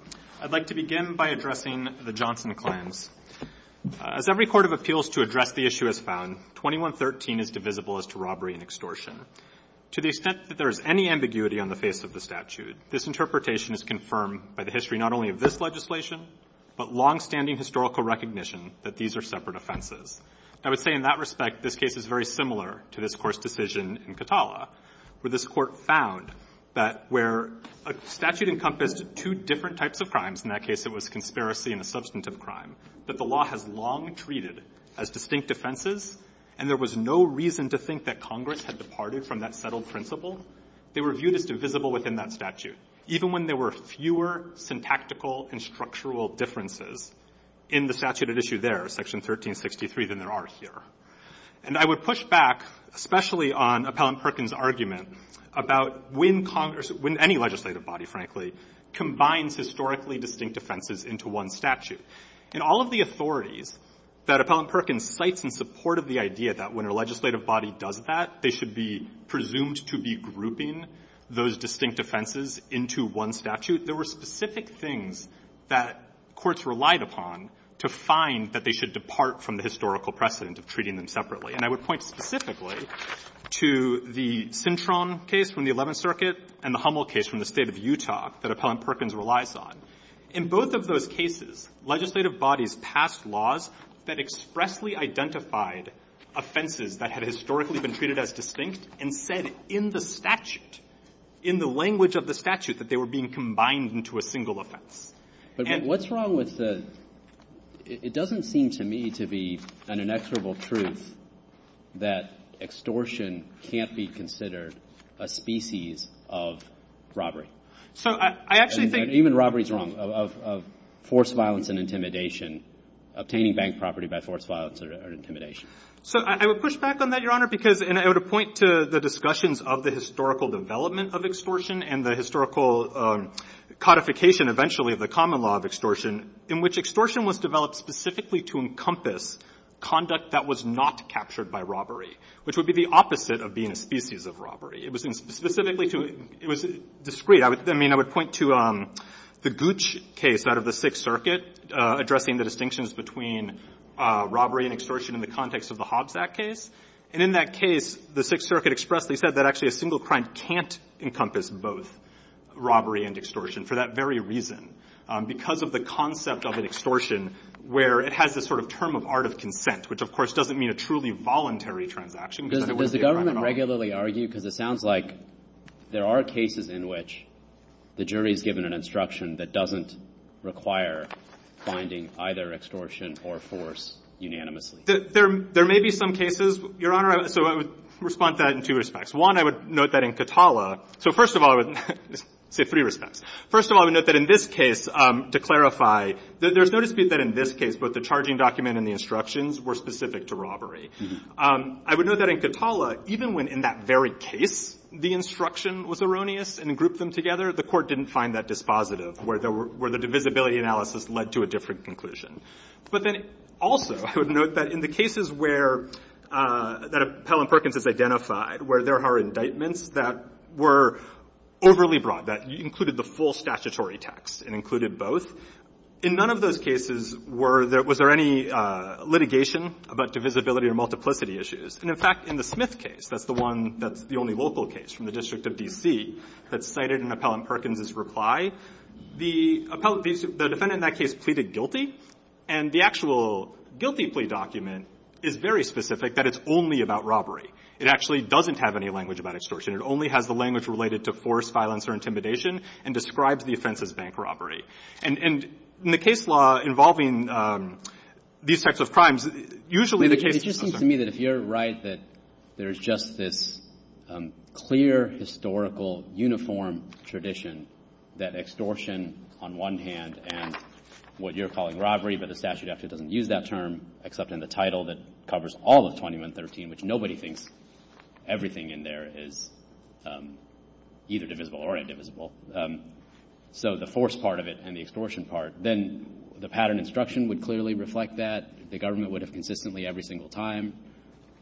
I'd like to begin by addressing the Johnson claims. As every court of appeals to address the issue has found, 2113 is divisible as to robbery and extortion. To the extent that there is any ambiguity on the face of the statute, this interpretation is confirmed by the history not only of this legislation, but longstanding historical recognition that these are separate offenses. I would say in that respect, this case is very similar to this court's decision in Katala, where this court found that where a statute encompasses two different types of crimes, in that case it was a conspiracy and a substantive crime, that the law has long treated as distinct offenses, and there was no reason to think that Congress had departed from that settled principle, they were viewed as divisible within that statute, even when there were fewer syntactical and structural differences in the statute at issue there, section 1363 than there are here. And I would push back, especially on Appellant Perkins' argument, about when Congress, when any legislative body, frankly, combines historically distinct offenses into one statute. In all of the authorities that Appellant Perkins cites in support of the idea that when a legislative body does that, they should be presumed to be grouping those distinct offenses into one statute, there were specific things that courts relied upon to find that they should depart from the historical precedent of treating them separately. And I would point specifically to the Cintron case from the 11th Circuit and the Hummel case from the state of Utah that Appellant Perkins relies on. In both of those cases, legislative bodies passed laws that expressly identified offenses that had historically been treated as distinct and said in the statute, in the language of the statute, that they were being combined into a single offense. But what's wrong with this? It doesn't seem to me to be an inexorable truth that extortion can't be considered a species of robbery. And even robbery is wrong, of forced violence and intimidation, obtaining bank property by forced violence or intimidation. So I would push back on that, Your Honor, because I would point to the discussions of the historical development of the common law of extortion in which extortion was developed specifically to encompass conduct that was not captured by robbery, which would be the opposite of being a species of robbery. It was discreet. I mean, I would point to the Gooch case out of the 6th Circuit, addressing the distinctions between robbery and extortion in the context of the Hobbs Act case. And in that case, the 6th Circuit expressly said that actually a single crime can't encompass both robbery and extortion for that very reason. Because of the concept of an extortion, where it has this sort of term of art of consent, which of course doesn't mean a truly voluntary transaction. Does the government regularly argue, because it sounds like there are cases in which the jury is given an instruction that doesn't require finding either extortion or force unanimously. There may be some cases, Your Honor. So I would respond to that in two respects. One, I would note that in Katala. So first of all, I would say three respects. First of all, I would note that in this case, to clarify, there's no dispute that in this case, both the charging document and the instructions were specific to robbery. I would note that in Katala, even when in that very case the instruction was erroneous and grouped them together, the court didn't find that dispositive, where the divisibility analysis led to a different conclusion. But then also, I would note that in the cases where that of Pell and Perkins is identified, where there are indictments that were overly broad, that included the full statutory text and included both, in none of those cases were there, was there any litigation about divisibility or multiplicity issues? And in fact, in the Smith case, that's the one that's the only local case from the district of D.C. that's cited in a Pell and Perkins' reply, the defendant in that case pleaded guilty. And the actual guilty plea document is very specific that it's only about robbery. It actually doesn't have any language about extortion. It only has the language related to force, or intimidation and describes the offense as bank robbery. And in the case law involving these types of crimes, usually the case... It just seems to me that if you're right, that there's just this clear, historical, uniform tradition that extortion, on one hand, and what you're calling robbery, but the statute actually doesn't use that term, except in the title that covers all of 2113, which nobody thinks everything in there is either divisible or indivisible. So the force part of it and the extortion part, then the pattern instruction would clearly reflect that. The government would have consistently, every single time,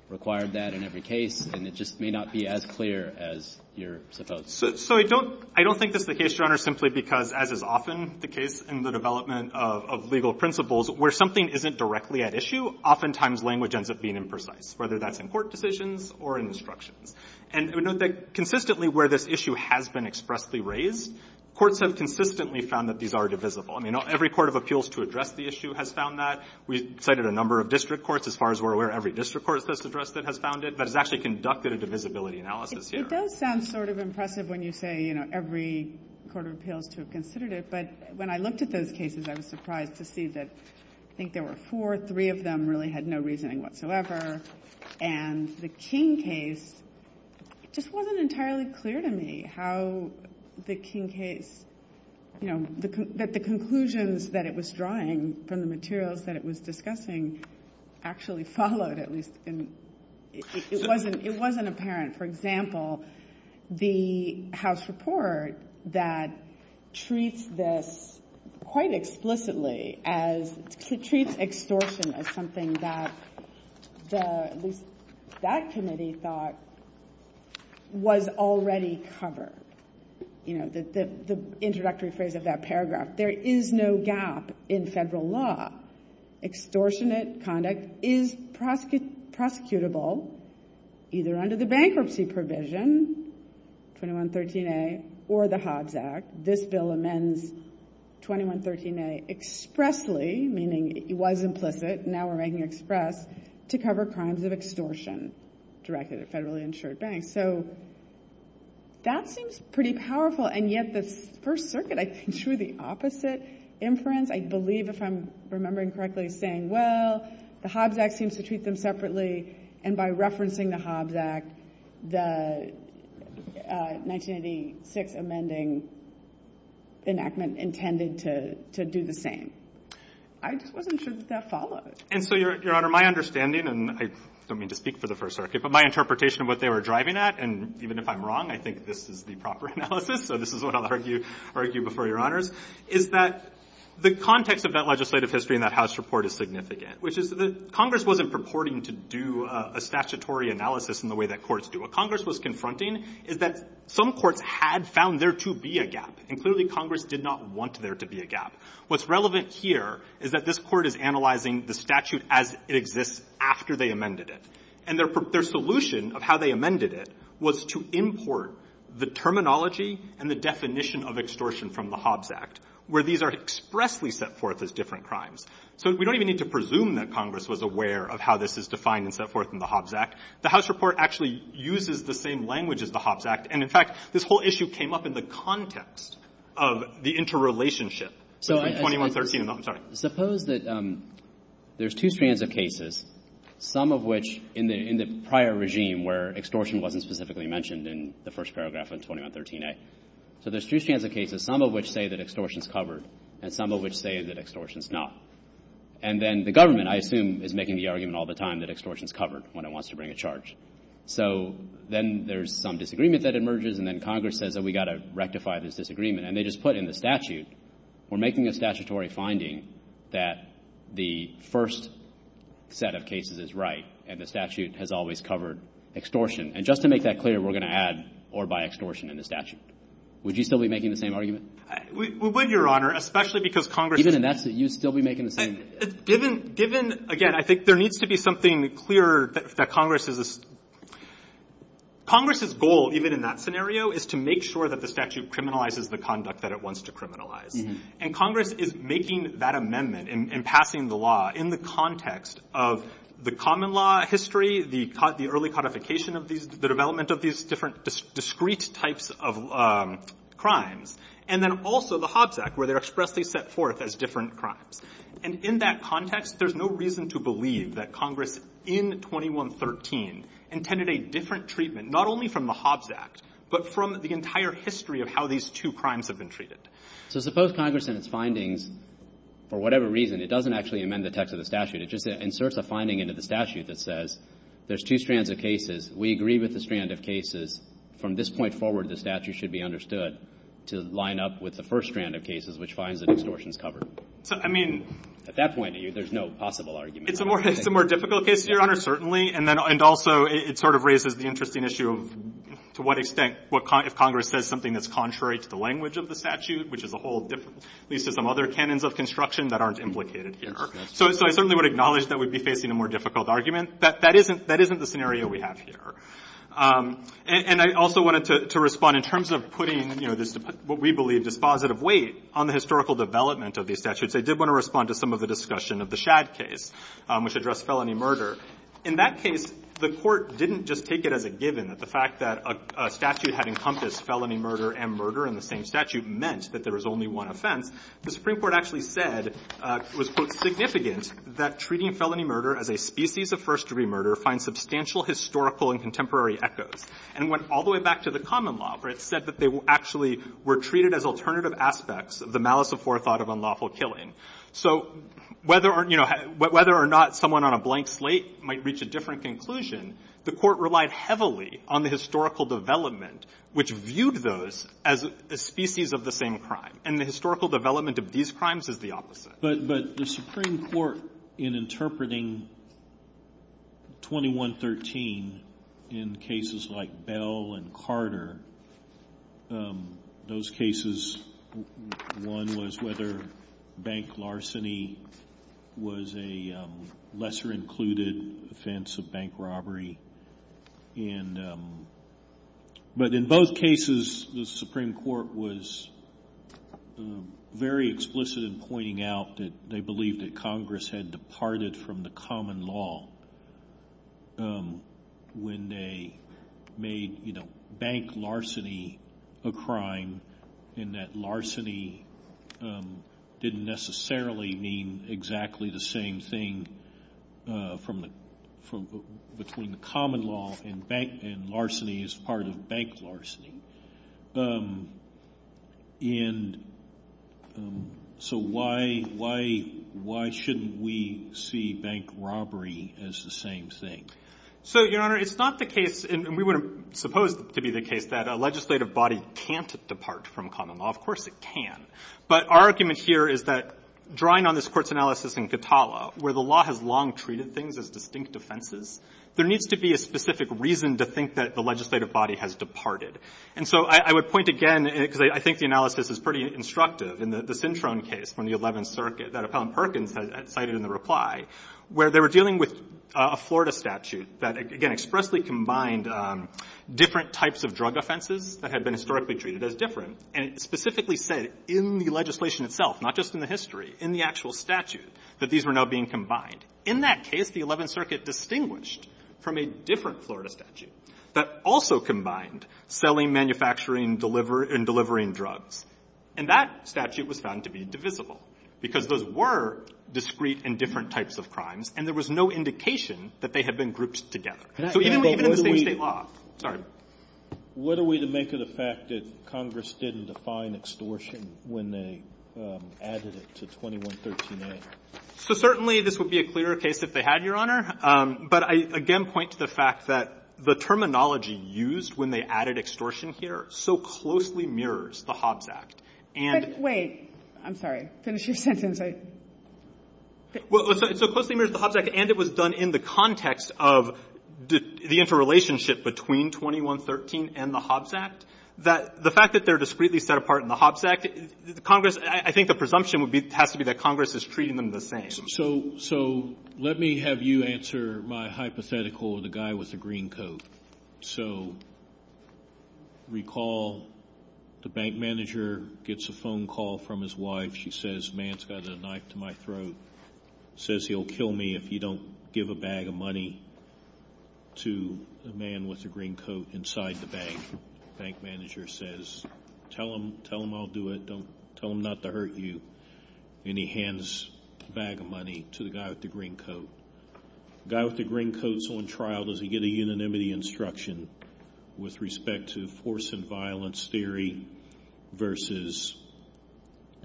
required that in every case, and it just may not be as clear as you're supposed to. So I don't think that the case runner is simply because, as is often the case in the development of legal principles, where something isn't directly at issue, oftentimes language ends up being imprecise, whether that's in court decisions or in instructions. And we note that consistently where this issue has been expressly raised, courts have consistently found that these are divisible. I mean, every court of appeals to address the issue has found that. We cited a number of district courts, as far as we're aware, every district court that's addressed it has found it, but it's actually conducted a divisibility analysis here. It does sound sort of impressive when you say, you know, every court of appeals to have considered it, but when I looked at those cases, I was surprised to see that I think there were four, three of them really had no reasoning whatsoever. And the King case just wasn't entirely clear to me how the King case, you know, that the conclusions that it was drawing from the materials that it was discussing actually followed, at least in, it wasn't, it wasn't apparent. For example, the house report that treats this quite explicitly as, to treat extortion as something that the, that committee thought was already covered. You know, the introductory phrase of that paragraph, there is no gap in federal law. Extortionate conduct is prosecutable, either under the bankruptcy provision, 2113A, or the Hobbs Act. This bill amends 2113A expressly, meaning it was implicit, now we're making it express, to cover crimes of extortion directed at federally insured banks. So that seems pretty powerful. And yet the first circuit, I can show you the opposite inference. I believe if I'm remembering correctly, it's saying, the Hobbs Act seems to treat them separately. And by referencing the Hobbs Act, the 1986 amending enactment intended to do the same. I just wasn't sure that that followed. And so your honor, my understanding, and I don't mean to speak for the first circuit, but my interpretation of what they were driving at. And even if I'm wrong, I think this is the proper analysis. So this is what I'll argue before your honors, is that the context of that legislative history in that house report is significant, which is that Congress wasn't purporting to do a statutory analysis in the way that courts do. What Congress was confronting is that some courts had found there to be a gap, and clearly Congress did not want there to be a gap. What's relevant here is that this court is analyzing the statute as it exists after they amended it. And their solution of how they amended it was to import the terminology and the definition of extortion from the Hobbs Act, where these are expressly set forth as different crimes. So we don't even need to presume that Congress was aware of how this is defined and set forth in the Hobbs Act. The house report actually uses the same language as the Hobbs Act. And, in fact, this whole issue came up in the context of the interrelationship. So 2113, I'm sorry. Suppose that there's two strands of cases, some of which in the prior regime where extortion wasn't specifically mentioned in the first paragraph of 2113-A. So there's two strands of cases, some of which say that extortion is covered, and some of which say that extortion is not. And then the government, I assume, is making the argument all the time that extortion is covered when it wants to bring a charge. So then there's some disagreement that emerges, and then Congress says that we've got to rectify this disagreement. And they just put in the statute, we're making a statutory finding that the first set of cases is right, and the statute has always covered extortion. And just to make that clear, we're going to add or by extortion in the statute. Would you still be making the same argument? We would, Your Honor, especially because Congress- Even if that's the case, you'd still be making the same- Given, again, I think there needs to be something clear that Congress is- Congress's goal, even in that scenario, is to make sure that the statute criminalizes the conduct that it wants to criminalize. And Congress is making that amendment and passing the law in the context of the common law history, the early codification of these, the development of these different discrete types of crimes. And then also the Hobbs Act, where they're expressly set forth as different crimes. And in that context, there's no reason to believe that Congress, in 2113, intended a different treatment, not only from the Hobbs Act, but from the entire history of how these two crimes have been treated. So suppose Congress, in its findings, for whatever reason, it doesn't actually amend the text of the statute. It just inserts a finding into the statute that says, there's two strands of cases. We agree with the strand of cases. From this point forward, the statute should be understood to line up with the first strand of cases, which finds that extortion is covered. I mean, at that point of view, there's no possible argument. It's a more difficult case, Your Honor, certainly. And then, and also it sort of raises the interesting issue of to what extent, what Congress says, something that's contrary to the language of the statute, which is a whole different piece of some other canons of construction that aren't implicated here. So, so I certainly would acknowledge that we'd be facing a more difficult argument. That, that isn't, that isn't the scenario we have here. And I also wanted to respond in terms of putting, you know, what we believe is positive weight on the historical development of these statutes. I did want to respond to some of the discussion of the Schad case, which addressed felony murder. In that case, the court didn't just take it as a given that the fact that a statute had encompassed felony murder and murder in the same statute meant that there was only one offense. The Supreme Court actually said it was significant that treating felony murder as a species of first-degree murder finds substantial historical and contemporary echoes. And went all the way back to the common law, where it said that they actually were treated as alternative aspects of the malice of forethought of unlawful killing. So, whether or not someone on a blank slate might reach a different conclusion, the court relied heavily on the historical development, which viewed those as a species of the same crime. And the historical development of these crimes is the opposite. But the Supreme Court, in interpreting 2113, in cases like Bell and Carter, those cases, one was whether bank larceny was a lesser-included offense of bank robbery. But in both cases, the Supreme Court was very explicit in pointing out that they believed that Congress had departed from the common law when they made bank larceny a crime in that larceny didn't necessarily mean exactly the same thing between common law and larceny as part of bank larceny. So why shouldn't we see bank robbery as the same thing? So, Your Honor, it's not the case, and we were supposed to be the case, that a legislative body can't depart from common law. Of course it can. But our argument here is that, where the law has long treated things as distinct offenses, there needs to be a specific reason to think that the legislative body has departed. And so I would point again, because I think the analysis is pretty instructive, in the Cintron case from the 11th Circuit, where they were dealing with a Florida statute that expressly combined different types of drug offenses that had been historically treated as different, and specifically said, in the legislation itself, not just in the history, in the actual statute, that these were now being combined. In that case, the 11th Circuit distinguished from a different Florida statute that also combined selling, and delivering drugs. And that statute was found to be divisible, because those were discrete and different types of crimes, and there was no indication that they had been grouped together. So even if they lost, sorry. What are we to make of the fact that Congress didn't define extortion when they added it to 2113A? So certainly, this would be a clearer case if they had, Your Honor. But I, point to the fact that the terminology used when they added extortion here so closely mirrors the Hobbs Act. And... But wait. I'm sorry. Finish your sentence, I... Well, so closely mirrors the Hobbs Act, and it was done in the context of the interrelationship between 2113 and the Hobbs Act. The fact that they're discreetly set apart in the Hobbs Act, Congress, I think the presumption would have to be that Congress is treating them the same. So, let me have you answer my hypothetical, the guy with the green coat. So, recall, the bank manager gets a phone call from his wife. She says, man's got a knife to my throat. Says he'll kill me if you don't give a bag of money to the man with the green coat inside the bank. Bank manager says, tell him, tell him I'll do it. Tell him not to hurt you. And he hands the bag of money to the guy with the green coat. The guy with the green coat's on trial. Does he get a unanimity instruction with respect to force and violence theory versus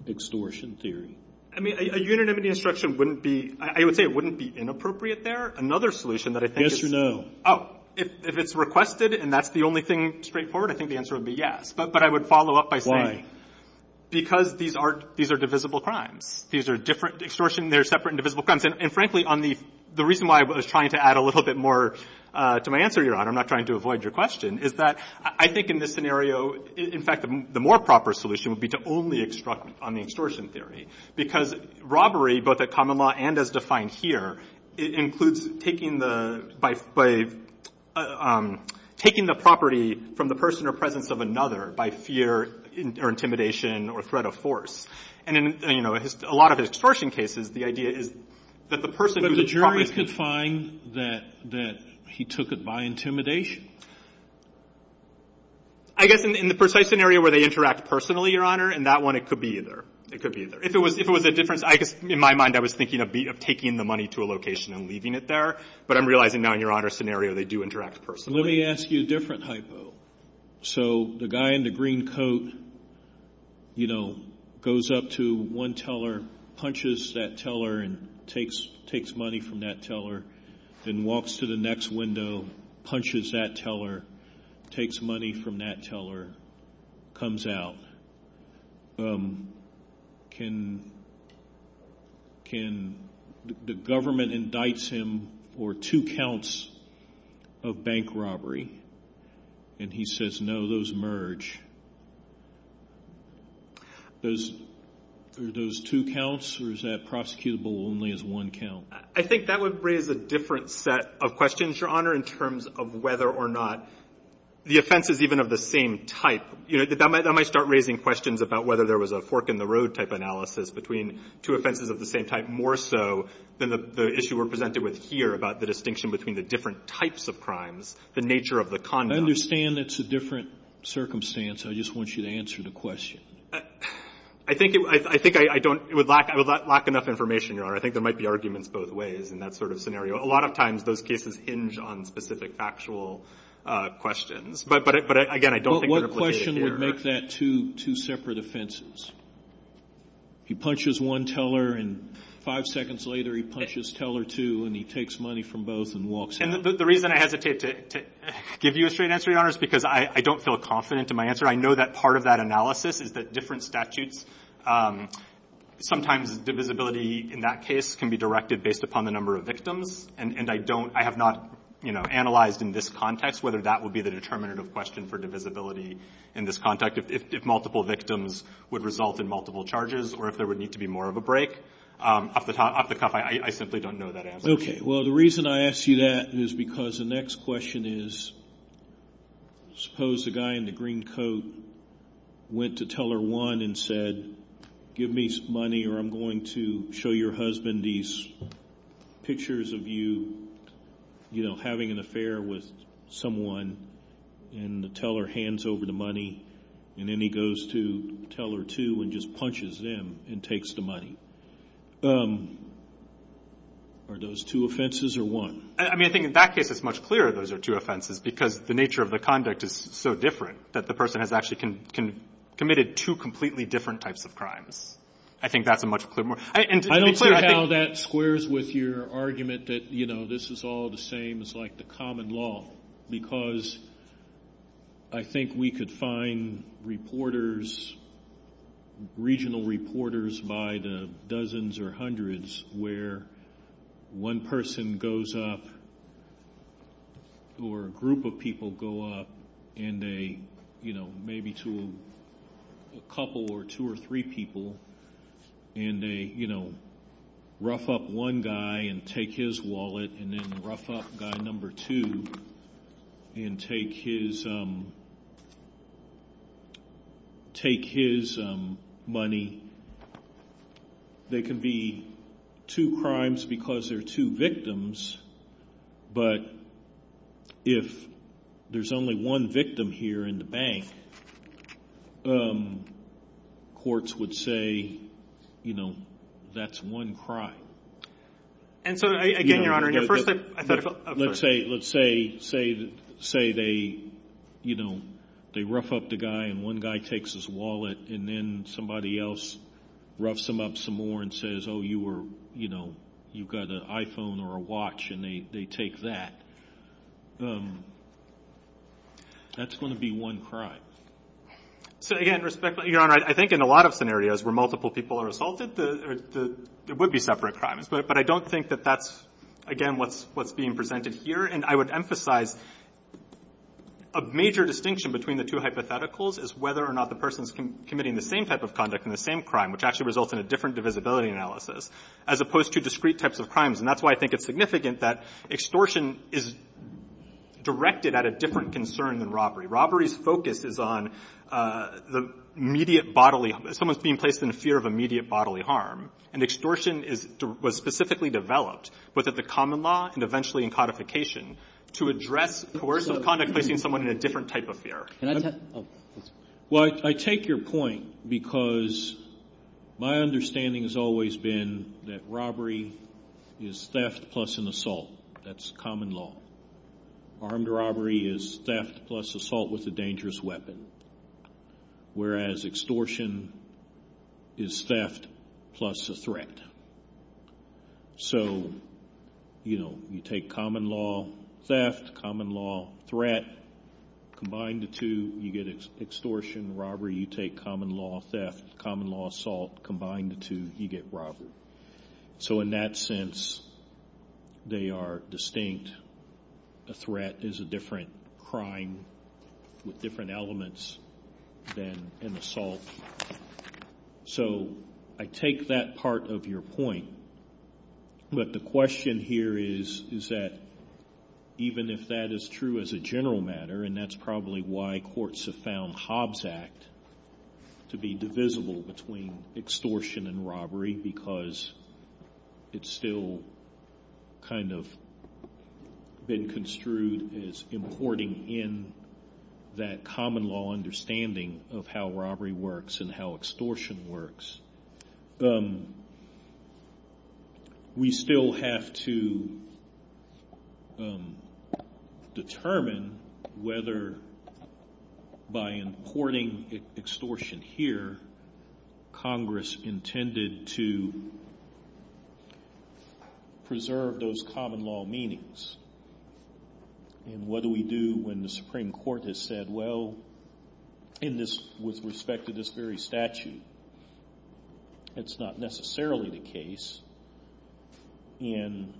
extortion theory? I mean, a unanimity instruction wouldn't be, I would say it wouldn't be inappropriate there. Another solution that I think is... Yes or no? Oh, if it's requested and that's the only thing straightforward, I think the answer would be yes. But I would follow up by saying... Because these are divisible crimes. These are different extortion, they're separate and divisible crimes. And frankly, the reason why I was trying to add a little bit more to my answer, I'm not trying to avoid your question, is that I think in this scenario, in fact, the more proper solution would be to only instruct on the extortion theory. Because robbery, both at common law and as defined here, includes taking the, by taking the property from the person or presence of another by fear or intimidation or threat of force. And in, you know, a lot of extortion cases, the idea is that the person... But the jury could find that he took it by intimidation? I guess in the precise scenario where they interact personally, Your Honor, in that one, it could be either. It could be either. If it was a different, in my mind, I was thinking of taking the money to a location and leaving it there. But I'm realizing now, in Your Honor's scenario, they do interact personally. Let me ask you a different hypo. So, the guy in the green coat, you know, goes up to one teller, punches that teller, and takes money from that teller, then walks to the next window, punches that teller, takes money from that teller, comes out. Can, can, the government indicts him for two counts of bank robbery, and he says, no, those merge. Those, are those two counts, or is that prosecutable only as one count? I think that would raise a different set of questions, in terms of whether or not the offense is even of the same type. You know, that might start raising questions about whether there was a fork in the road type analysis, between two offenses of the same type, more so than the issue we're presented with here, about the distinction between the different types of crimes, the nature of the conduct. I understand that's a different circumstance. I just want you to answer the question. I think, I think I don't, I would lack, I would lack enough information, Your Honor. I think there might be arguments both ways, in that sort of scenario. A lot of times, those cases hinge on specific factual questions. But, but again, I don't think that's what they adhere to. But what question would make that two, two separate offenses? He punches one teller, and five seconds later, he punches teller two, and he takes money from both, and walks out. And the reason I hesitate to, give you a straight answer, Your Honor, is because I don't feel confident in my answer. I know that part of that analysis, is that different statutes, sometimes divisibility, in that case, can be directed based upon the number of victims. And I don't, I have not, you know, analyzed in this context, whether that would be the determinative question, for divisibility, in this context. If multiple victims, would result in multiple charges, or if there would need to be more of a break. Up the top, up the top, I simply don't know that answer. Okay. Well, the reason I ask you that, is because the next question is, suppose a guy in the green coat, went to teller one, and said, give me some money, or I'm going to show your husband these, pictures of you, you know, having an affair with someone, and the teller hands over the money, and then he goes to teller two, and just punches them, and takes the money. Are those two offenses, or one? I mean, I think in that case, it's much clearer, those are two offenses, because the nature of the conduct, is so different, that the person has actually, committed two completely different types of crimes. I think that's a much clearer, and finally, I think, I don't see how that squares with your argument, that you know, this is all the same, it's like the common law, because, I think we could find, reporters, regional reporters, by the dozens, or hundreds, where, one person goes up, or a group of people go up, and they, maybe to a couple, or two or three people, and they, you know, rough up one guy, and take his wallet, and then rough up guy number two, and take his, take his, money. There can be, two crimes, because there are two victims, but, if, there's only one victim here, in the bank, courts would say, you know, that's one crime. And so, again, your honor, let's say, let's say, say they, you know, they rough up the guy, and one guy takes his wallet, and then somebody else, roughs him up some more, and says, you were, you know, you've got an iPhone, or a watch, and they take that. That's going to be one crime. So, again, respectfully, your honor, I think in a lot of scenarios, where multiple people are assaulted, there would be separate crimes, but I don't think that that's, again, what's being presented here, and I would emphasize, a major distinction, between the two hypotheticals, is whether or not the person's committing, the same type of conduct, and the same crime, which actually results in a different divisibility analysis, as opposed to discrete types of crimes, and that's why I think it's significant, that extortion is directed, at a different concern than robbery. Robbery's focus is on, the immediate bodily, someone's being placed in fear of immediate bodily harm, and extortion is, was specifically developed, both at the common law, and eventually in codification, to address coercive conduct, facing someone in a different type of fear. Well, I take your point, because, my understanding has always been, that robbery is theft, plus an assault, that's common law. Armed robbery is theft, plus assault with a dangerous weapon, whereas extortion, is theft, plus a threat. So, you know, you take common law, theft, common law, threat, combined the two, you get extortion, robbery, you take common law, theft, common law, assault, combined the two, you get robbery. So in that sense, they are distinct, a threat is a different crime, with different elements, than an assault. So, I take that part of your point, but the question here is, is that, even if that is true as a general matter, and that's probably why courts have found Hobbs Act, to be divisible between extortion and robbery, because, it's still, kind of, been construed as importing in, that common law understanding, of how robbery works, and how extortion works. We still have to, determine, whether, by importing extortion here, Congress intended to, preserve those common law meanings. And what do we do, when the Supreme Court has said, in this, with respect to this very statute, it's not necessarily the case, and,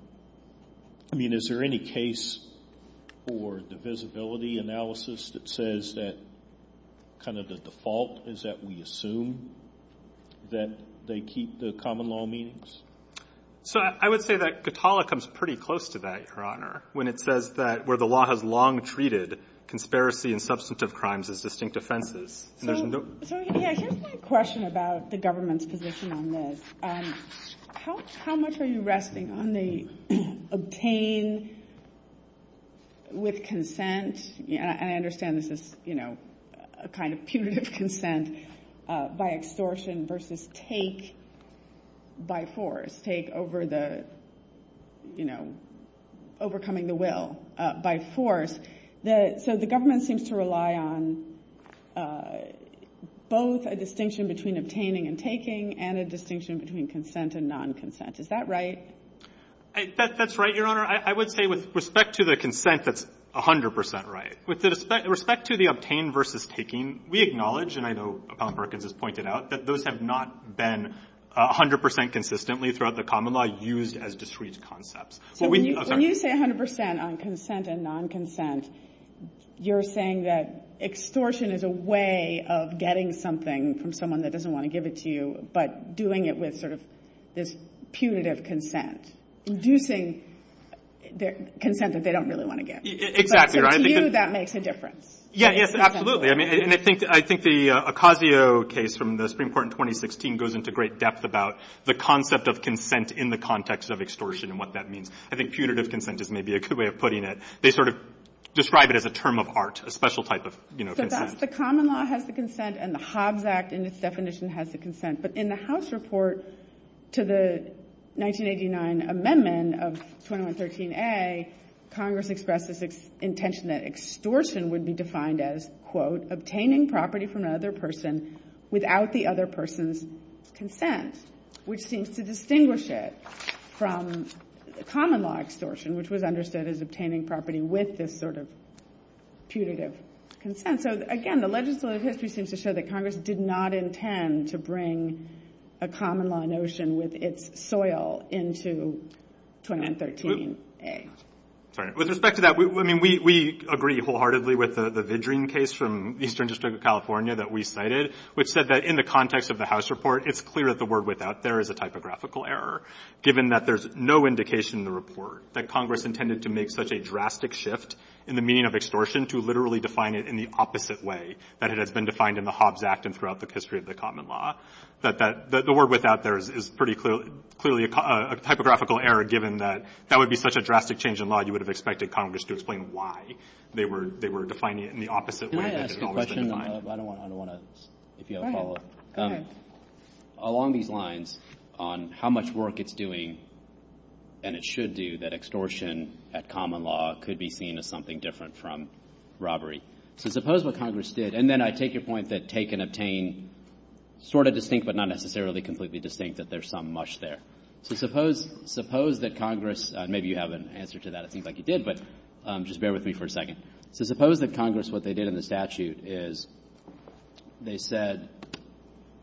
I mean, is there any case, for the visibility analysis, that says that, kind of the default, is that we assume, that they keep the common law meanings? So, I would say that, Catala comes pretty close to that, Your Honor, when it says that, where the law has long treated, conspiracy and substantive crimes, as distinct offenses. So, here's my question about, the government's position on this. How much are you resting, on the, obtained, with consent? I understand this is, you know, a kind of punitive consent, by extortion, versus take, by force. Take over the, you know, overcoming the will, by force. So, the government seems to rely on, both a distinction between, obtaining and taking, and a distinction between, consent and non-consent. Is that right? That's right, Your Honor, I would say, with respect to the consent, that's 100% right. With respect to the, obtained versus taking, we acknowledge, and I know, Appellant Perkins has pointed out, that those have not been, 100% consistently, throughout the common law, used as discrete concepts. When you say 100% on, consent and non-consent, you're saying that, extortion is a way, of getting something, from someone that doesn't, want to give it to you, but doing it with sort of, this punitive consent. Do you think, consent that they don't, really want to give. Exactly. To you, that makes a difference. Yes, absolutely. I think the, Ocasio case, from the Supreme Court in 2016, goes into great depth about, the concept of consent, in the context of extortion, and what that means. I think punitive consent, is maybe a good way of putting it. They sort of, describe it as a term of art, a special type of, you know, consent. So that's the common law, has the consent, and the Hobbs Act, in its definition, has the consent. But in the House report, to the, 1989 amendment, of 2113A, Congress expressed, this intention, that extortion, would be defined as, obtaining property, from another person, without the other person's, consent. Which seems to distinguish it, from, common law extortion, which was understood, as obtaining property, with this sort of, punitive consent. So again, the legislative history, seems to show that Congress, did not intend, to bring, a common law notion, with its soil, into, 2113A. With respect to that, I mean, we agree wholeheartedly, with the Vidrine case, from the Eastern District of California, that we cited, which said that, in the context of the House report, it's clear that the word, without there, is a typographical error, given that there's no indication, in the report, that Congress intended to make, such a drastic shift, in the meaning of extortion, to literally define it, in the opposite way, that it has been defined, in the Hobbs Act, and throughout the history, of the common law. But the word, without there, is pretty clearly, a typographical error, given that, that would be such, a drastic change in law, you would have expected Congress, to explain why, they were defining it, in the opposite way, that it has been defined. Can I ask a question? I don't want to, if you have a follow up. Go ahead. Along these lines, on how much work it's doing, and it should do, that extortion, that common law, could be seen, as something different, from robbery. So suppose what Congress did, and then I take your point, that take and obtain, sort of distinct, but not necessarily, completely distinct, that there's some mush there. So suppose, suppose that Congress, maybe you have an answer, to that, it seems like you did, but just bear with me, for a second. So suppose that Congress, what they did in the statute, is they said,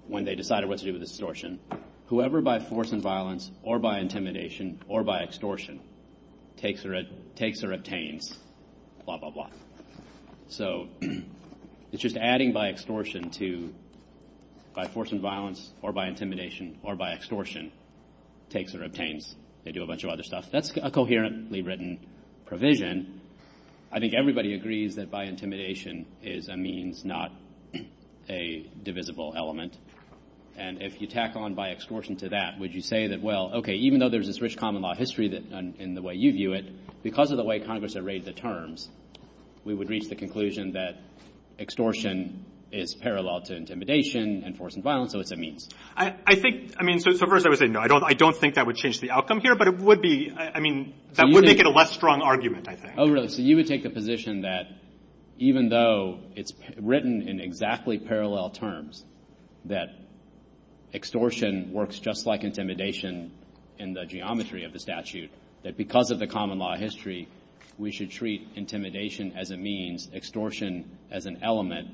when they decided, what to do with extortion, whoever by force and violence, or by intimidation, or by extortion, takes or obtains, blah, blah, blah. So, it's just adding, by extortion, to, by force and violence, or by intimidation, or by extortion, takes or obtains. They do a bunch of other stuff. That's a coherently written, provision. I think everybody agrees, that by intimidation, is a means, not a divisible element. And if you tack on, by extortion, to that, would you say that, well, okay, even though there's this rich, common law history, in the way you view it, because of the way, Congress arrayed the terms, we would reach the conclusion, that extortion, is a means, parallel to intimidation, and force and violence, so it's a means. I think, I mean, so first I would say, no, I don't think that would change, the outcome here, but it would be, I mean, that would make it, a less strong argument, I think. Oh, no, so you would take the position, that even though, it's written, in exactly parallel terms, that extortion, works just like intimidation, in the geometry of the statute, that because of the, common law history, we should treat intimidation, as a means, extortion, as an element,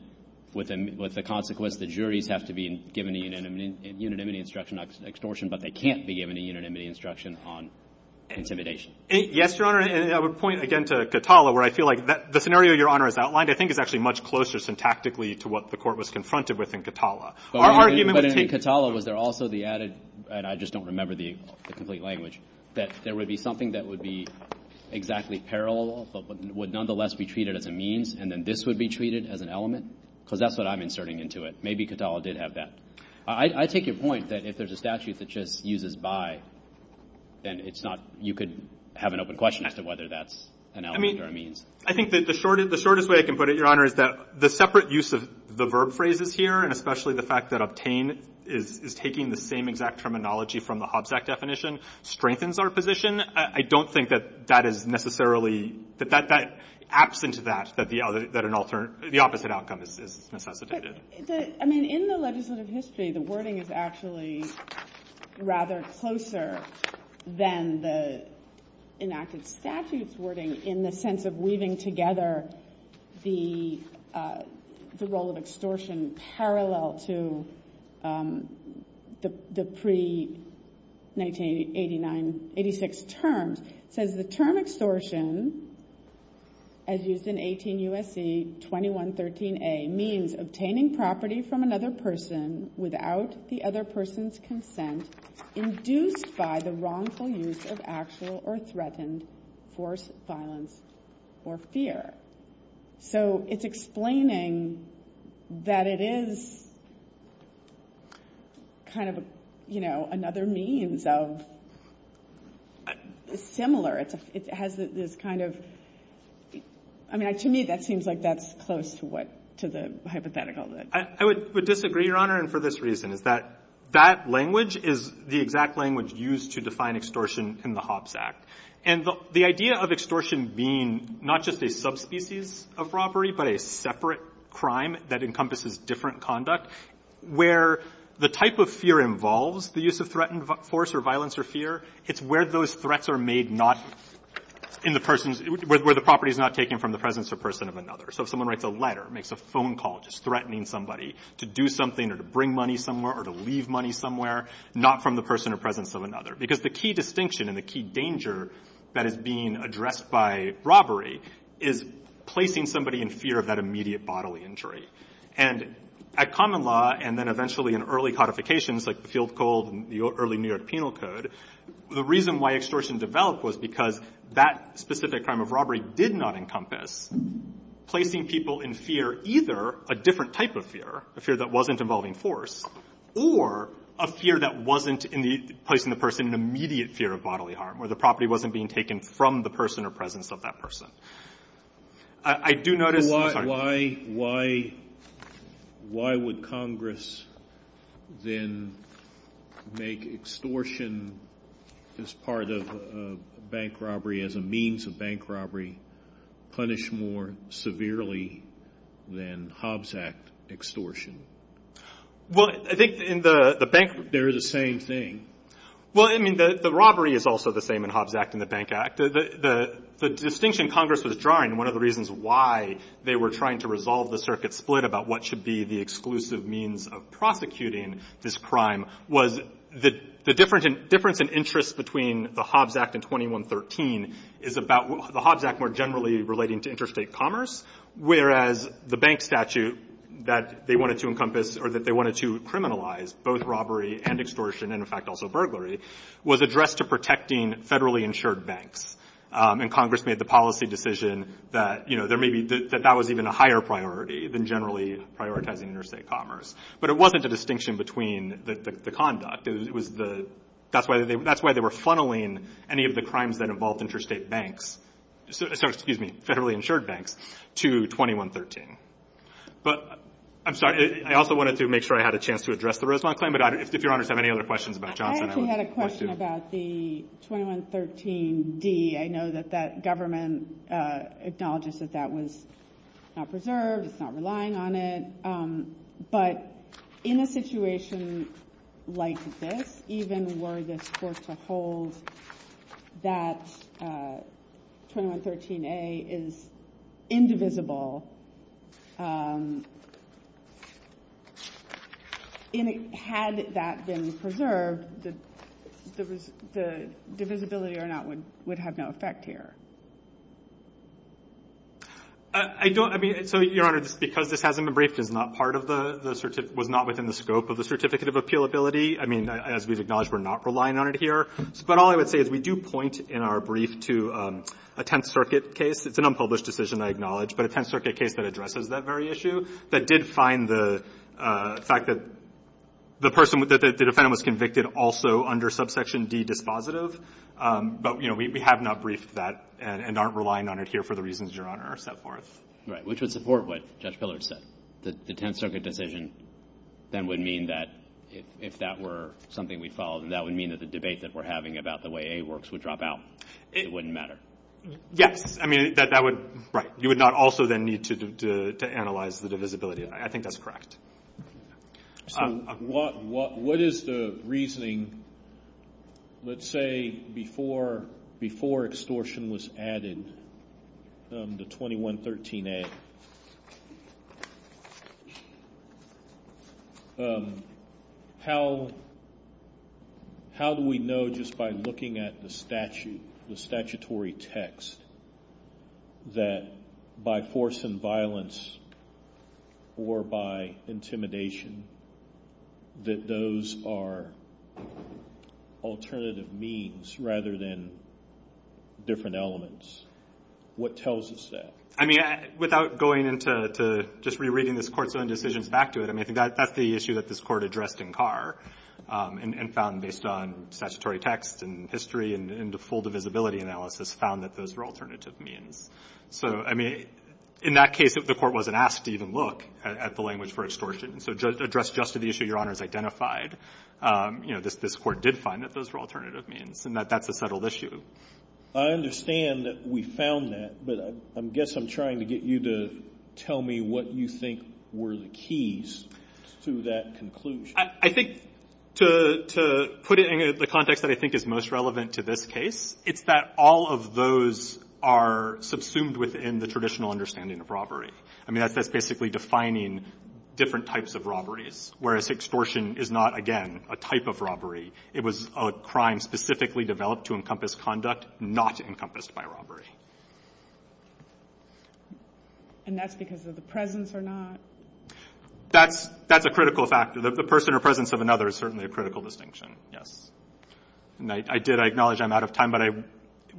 with the consequence, the juries have to be, given a unanimity instruction, on extortion, but they can't be given, a unanimity instruction, on intimidation. Yes, your honor, and I would point again, to Katala, where I feel like, the scenario your honor, has outlined, I think is actually, much closer syntactically, to what the court, was confronted with in Katala. But in Katala, was there also the added, and I just don't remember, the complete language, that there would be something, that would be, exactly parallel, but would nonetheless, be treated as a means, and then this would be treated, as an element, because that's what, I'm inserting into it. Maybe Katala did have that. I take your point, that if there's a statute, that just uses by, then it's not, you could have an open question, as to whether that's, an element or a means. I think that the shortest, the shortest way, I can put it your honor, is that the separate use of, the verb phrases here, and especially the fact, that obtain, is taking the same exact terminology, from the Hobbs Act definition, strengthens our position. I don't think that, that is necessarily, that that, that acts into that, that the other, that an alternate, the opposite outcome is. I mean, in the legislative history, the wording is actually, rather closer, than the, enacted statutes wording, in the sense of, weaving together, the, the role of extortion, parallel to, the pre, 1989, 86 terms, says the term extortion, as used in 18 U.S.C. 2113a, means obtaining property, from another person, without the other person's consent, induced by the wrongful use, of actual or threatened, force, violence, or fear. So, it's explaining, that it is, kind of, you know, another means of, similar, it has this kind of, I mean, to me that seems like, that's close to what, to the hypothetical. I would disagree, and for this reason, that, that language, is the exact language, used to define extortion, in the Hobbs Act, and the, the idea of extortion being, not just a subspecies, of property, but a separate crime, that encompasses different conduct, where, the type of fear involves, the use of threatened force, or violence or fear, it's where those threats are made, not, in the person's, where the property is not taken, from the presence of person, or presence of another. So, if someone writes a letter, makes a phone call, just threatening somebody, to do something, or to bring money somewhere, or to leave money somewhere, not from the person, or presence of another, because the key distinction, and the key danger, that is being addressed by, robbery, is, placing somebody in fear, of that immediate bodily injury, and, at common law, and then eventually, in early codifications, like the field cold, and the early New York penal code, the reason why extortion developed, was because, that specific crime of robbery, did not encompass, placing people in fear, a different type of fear, a fear that wasn't involving force, or, a fear that wasn't, in the, placing the person in immediate fear, of bodily harm, where the property wasn't being taken, from the person, or presence of that person. I do notice, why, why, why would Congress, then, make extortion, as part of, bank robbery, as a means of bank robbery, punish more, severely, than Hobbs Act, extortion? Well, I think, in the bank, there is the same thing. Well, I mean, the robbery is also the same in Hobbs Act, and the bank act. The, the distinction Congress was drawing, one of the reasons why, they were trying to resolve the circuit split, about what should be the exclusive means, of prosecuting, this crime, was, the difference in, difference in interest between, the Hobbs Act, and 2113, is about, the Hobbs Act, more generally, relating to interstate commerce, whereas, the bank statute, that they wanted to encompass, or that they wanted to criminalize, both robbery, and extortion, and in fact, also burglary, was addressed to protecting, federally insured banks, and Congress made the policy decision, that, you know, there may be, that that was even a higher priority, than generally, prioritizing interstate commerce, but it wasn't a distinction between, the conduct, it was the, that's why they, that's why they were funneling, any of the crimes, that involved interstate banks, so, excuse me, federally insured banks, to 2113, but, I'm sorry, I also wanted to make sure, I had a chance to address, the Roseland claim, but if your honors, have any other questions, about Jonathan, I would love to. I actually had a question, about the 2113 D, I know that, that government, acknowledges, that that was, not preserved, it's not relying on it, but, in a situation, like this, even were this, forced to hold, that, 2113 A, is, indivisible, had that been preserved, the divisibility or not, would have no effect here. I don't, I mean, so your honors, because this hasn't been briefed, it's not part of the, was not within the scope, of the certificate of appealability, I mean, as we acknowledge, we're not relying on it here, but all I would say, is we do point, in our brief, to a 10th circuit case, it's an unpublished decision, I acknowledge, but a 10th circuit case, that addresses that very issue, that did find the, fact that, the person, that the defendant, was convicted also, under subsection D dispositive, but you know, we have not briefed that, and aren't relying on it here, for the reasons your honor, are set forth. Right, which would support, what Judge Pillard said, the 10th circuit decision, then would mean that, if that were, something we followed, that would mean, that the debate, that we're having, about the way, that the frameworks, would drop out, it wouldn't matter. Yeah, I mean, that would, right, you would not also, then need to, analyze the divisibility, I think that's correct. So, what is the reasoning, let's say, before, extortion was added, the 2113A, how, how do we know, just by looking at, the statute, the statutory text, that, by force and violence, or by intimidation, that those are, alternative means, rather than, different elements, what tells us that? I mean, without going into, just rereading, this court's own decision, back to it, I mean, that's the issue, that this court addressed, in Carr, and found based on, statutory text, and history, in the full divisibility analysis, found that those are, alternative means. So, I mean, in that case, the court wasn't asked, to even look, at the language for extortion. So, addressed just to the issue, your honor has identified, you know, this court did find, that those are alternative means, and that that's a settled issue. I understand, that we found that, but I guess I'm trying, to get you to, tell me what you think, were the keys, to that conclusion. I think, to, to put it in, the context that I think, is most relevant, to this case, it's that, all of those, are, subsumed within, the traditional understanding, of robbery. I mean, that's basically defining, different types of robberies, whereas extortion, is not again, a type of robbery, it was a crime, specifically developed, to encompass conduct, not encompassed by robbery. And that's because, of the presence, or not? That's, that's a critical factor, that the person, or presence of another, is certainly, a critical distinction. Yes. And I did, I acknowledge, I'm out of time, but I,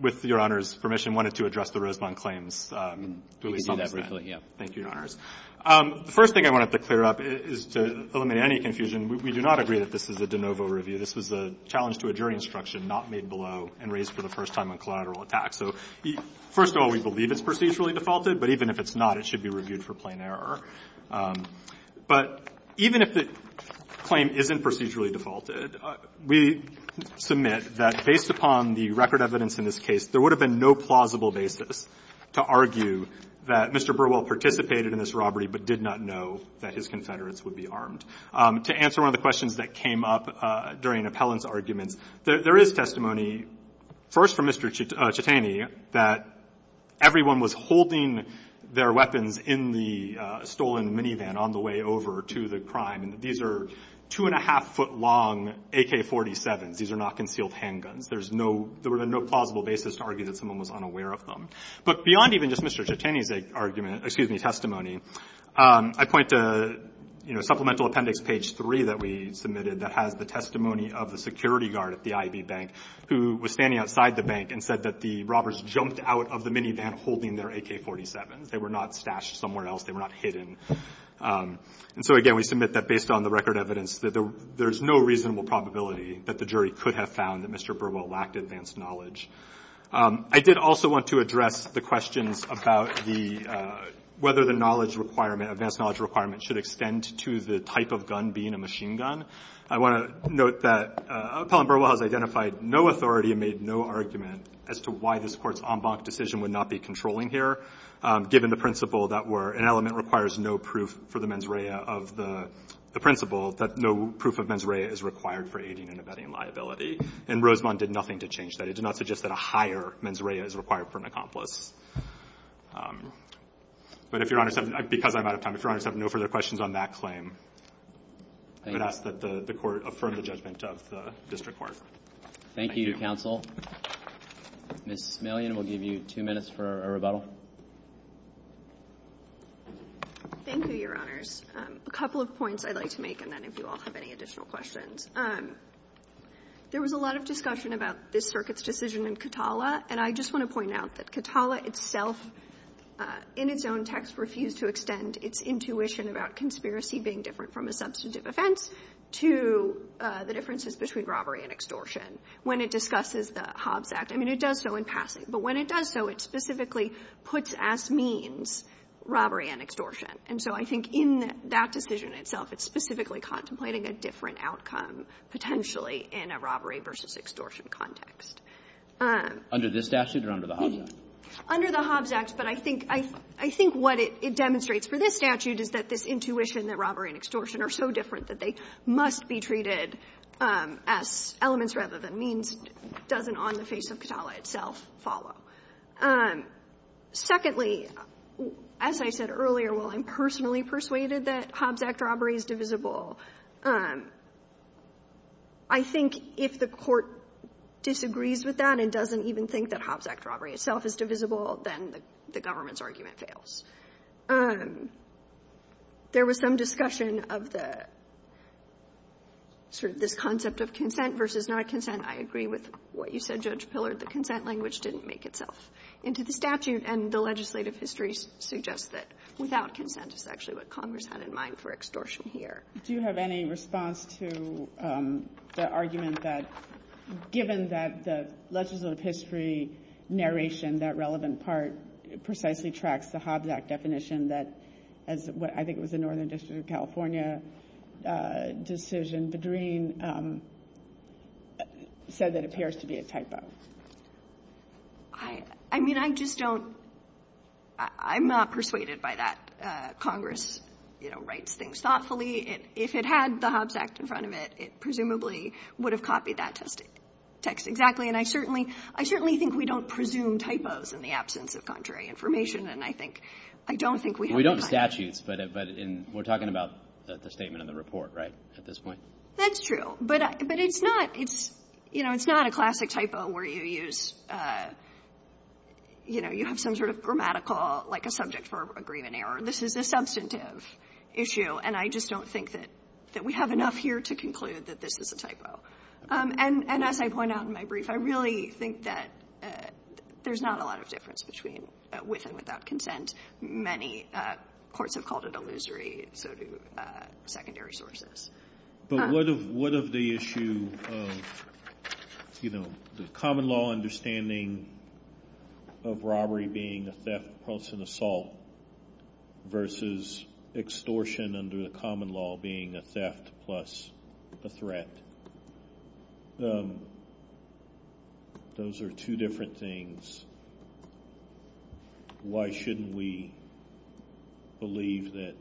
with your honor's permission, wanted to address, the Roseland claims. Thank you. The first thing, I wanted to clear up, is to eliminate, any confusion. We do not agree, that this is a de novo review. This is a challenge, to a jury instruction, not made below, and raised for the first time, on collateral attack. So, first of all, we believe it's procedurally defaulted, but even if it's not, it should be reviewed, for plain error. But, even if the, claim isn't procedurally defaulted, we submit, that based upon, the record evidence, in this case, there would have been, no plausible basis, to argue, that Mr. Burwell, participated in this robbery, but did not know, that his confederates, would be armed. To answer one of the questions, that came up, during appellant's argument, there is testimony, first from Mr. Chetani, that, everyone was holding, their weapons, in the, stolen minivan, on the way over, to the crime. And these are, two and a half foot long, AK 47. These are not concealed handguns. There's no, there would have been, no plausible basis, to argue, that someone was, unaware of them. But, beyond even just Mr. Chetani, argument, excuse me, testimony, I point to, supplemental appendix, page three, that we submitted, that has the testimony, of the security guard, at the IB bank, who was standing outside the bank, and said that the robbers, jumped out of the minivan, holding their AK 47. They were not stashed, somewhere else. They were not hidden. And so again, we submit, that based on the record evidence, that there's no reasonable, probability, that the jury could have found, that Mr. Burwell, lacked advanced knowledge. I did also want to address, the questions about the, whether the knowledge requirement, advanced knowledge requirement, should extend to the type of gun, being a machine gun. I want to note that, Appellant Burwell has identified, no authority, and made no argument, as to why this court's, en banc decision, would not be controlling here, given the principle that were, an element requires no proof, for the mens rea, of the principle, that no proof of mens rea, is required for aiding, and abetting a liability. And Rosemond, did nothing to change that. He did not suggest, that a higher mens rea, is required for an accomplice. But if you're honest, because I'm out of time, if you're honest, I have no further questions, on that claim. I ask that the court, affirm the judgment, of the district court. Thank you, your counsel. Ms. Smillion, will give you two minutes, for a rebuttal. Thank you, your honors. A couple of points, I'd like to make, and then if you all, have any additional questions. There was a lot, of discussion about, this circuit's decision, in Katala. And I just want to point out, that Katala itself, in its own text, refused to extend, its intuition, about conspiracy, being different, from a substantive offense, to the differences, between robbery, and extortion. When it discusses, the Hobbs Act, I mean it does so in passing, but when it does so, it specifically, puts as means, robbery and extortion. And so I think, in that decision itself, it's specifically, contemplating a different outcome, potentially, in a robbery, versus extortion context. Under this statute, or under the Hobbs Act? Under the Hobbs Act, but I think, what it demonstrates, for this statute, is that this intuition, that robbery and extortion, are so different, that they must be treated, as elements rather than means, doesn't on the face of Katala, itself follow. Secondly, as I said earlier, while I'm personally persuaded, that Hobbs Act robbery, is divisible, I think, if the court, disagrees with that, and doesn't even think, that Hobbs Act robbery, itself is divisible, then the government's, argument fails. There was some discussion, of the, sort of this concept of consent, versus not consent. I agree with, what you said Judge Pillard, the consent language, didn't make itself, into the statute, and the legislative history, suggests that, without consent, is actually what Congress, had in mind for extortion here. Do you have any response, to the argument that, given that, legislative history, narration, that relevant part, precisely tracks, the Hobbs Act definition, that as I think, it was in Northern District, of California, decision, the dream, said that it appears, to be a typo. I mean, I just don't, I'm not persuaded, by that Congress, writes things thoughtfully, if it had the Hobbs Act, in front of it, it presumably, would have copied that, text exactly, and I certainly, I certainly think, we don't presume typos, in the absence of, contrary information, and I think, I don't think we have that. We don't in statutes, but in, we're talking about, the statement in the report, right, at this point? That's true, but it's not, it's, you know, it's not a classic typo, where you use, you know, you have some sort of grammatical, like a subject verb, agreement error, this is a substantive, issue, and I just don't think that, that we have enough here, to conclude, that this is a typo, and as I point out, in my brief, I really think that, there's not a lot of difference, with and without consent, many, courts have called it, illusory, so do, secondary sources. But what of, what of the issue, you know, the common law understanding, of robbery being, a theft, an assault, versus, extortion, and under the common law, being a theft, plus, a threat, those are two different things, why shouldn't we, believe that,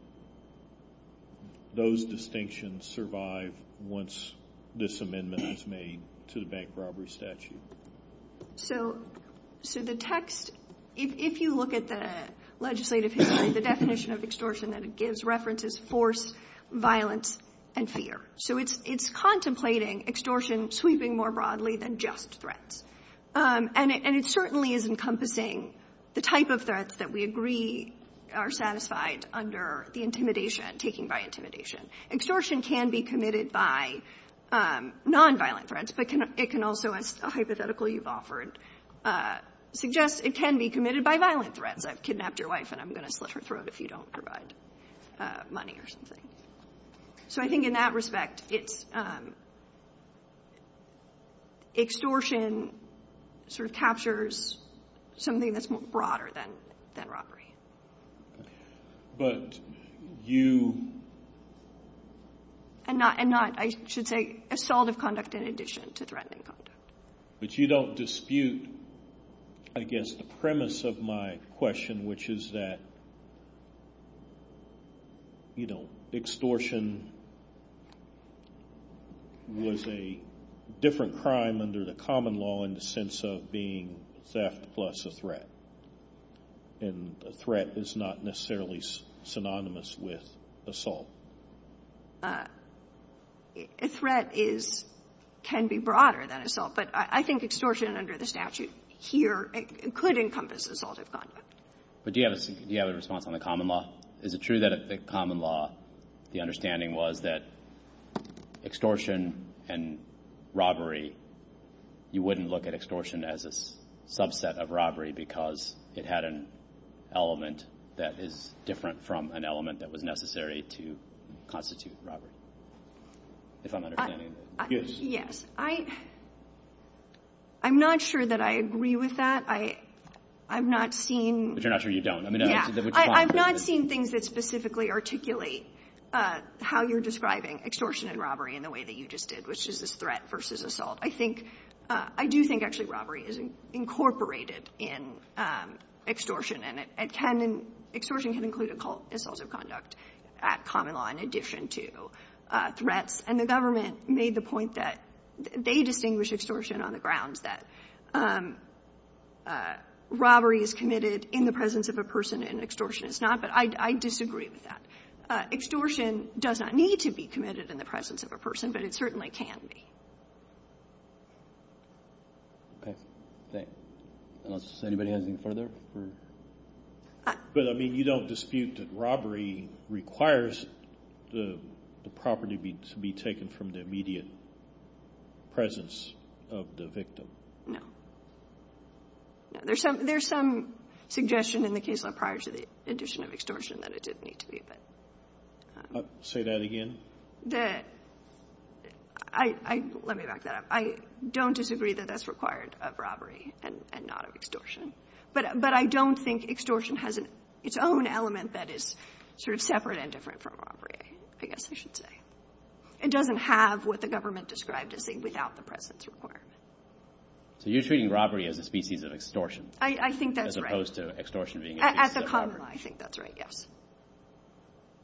those distinctions survive, once, this amendment is made, to the bank robbery statute. So, so the text, if you look at the, legislative history, the definition of extortion, that it gives references, force, and fear. So it's contemplating, extortion, sweeping more broadly, than just threats. And it certainly is encompassing, the type of threats, that we agree, are satisfied, under the intimidation, taking by intimidation. Extortion can be committed by, non-violent threats, but it can also, as a hypothetical you've offered, suggest it can be committed, by violent threats, like kidnap your wife, and I'm going to slit her throat, if you don't provide, money or something. So I think in that respect, it's, sort of captures, something that's more broader, than robbery. But, you, and not, I should say assault of conduct, in addition to threatening conduct. But you don't dispute, I guess the premise, of my question, which is that, you know, extortion, was a, different crime, under the common law, in the sense of being, theft plus a threat. And a threat, is not necessarily, synonymous with, assault. A threat is, can be broader than assault, but I think extortion, under the statute, here could encompass, assault of conduct. But do you have a response, on the common law? Is it true that, the common law, the understanding was that, extortion, and robbery, you wouldn't look at extortion, as a subset of robbery, because it had an, element that is, different from an element, that was necessary to, constitute robbery. If I'm understanding that. Yes. I, I'm not sure that I agree, with that. I, I've not seen. But you're not sure you don't. Yeah. I've not seen things, that specifically articulate, how you're describing, extortion and robbery, in the way that you just did, which is this threat, versus assault. I think, I do think actually robbery, is incorporated, in, extortion. And it can, extortion can include, assault of conduct, at common law, in addition to, threats. And the government, made the point that, they distinguish extortion, on the grounds that, robbery is committed, in the presence of a person, and extortion is not. But I, I disagree with that. Extortion, does not need to be committed, in the presence of a person, but it certainly can be. Okay. Thank you. Unless anybody has anything further? But I mean, you don't dispute that robbery, requires, the property to be taken, from the immediate, presence, of the victim. No. There's some, there's some, suggestion in the case law, prior to the, addition of extortion, that it did need to be, but. Say that again. That, I, let me back that up. I don't disagree, that that's required, of robbery, and not of extortion. But, but I don't think extortion, has its own element, that is, sort of separate, and different from robbery, I guess I should say. It doesn't have, what the government described, as being without, the presence required. So you're treating robbery, as a species of extortion? I, I think that's right. As opposed to extortion being, At the common law, I think that's right, yes.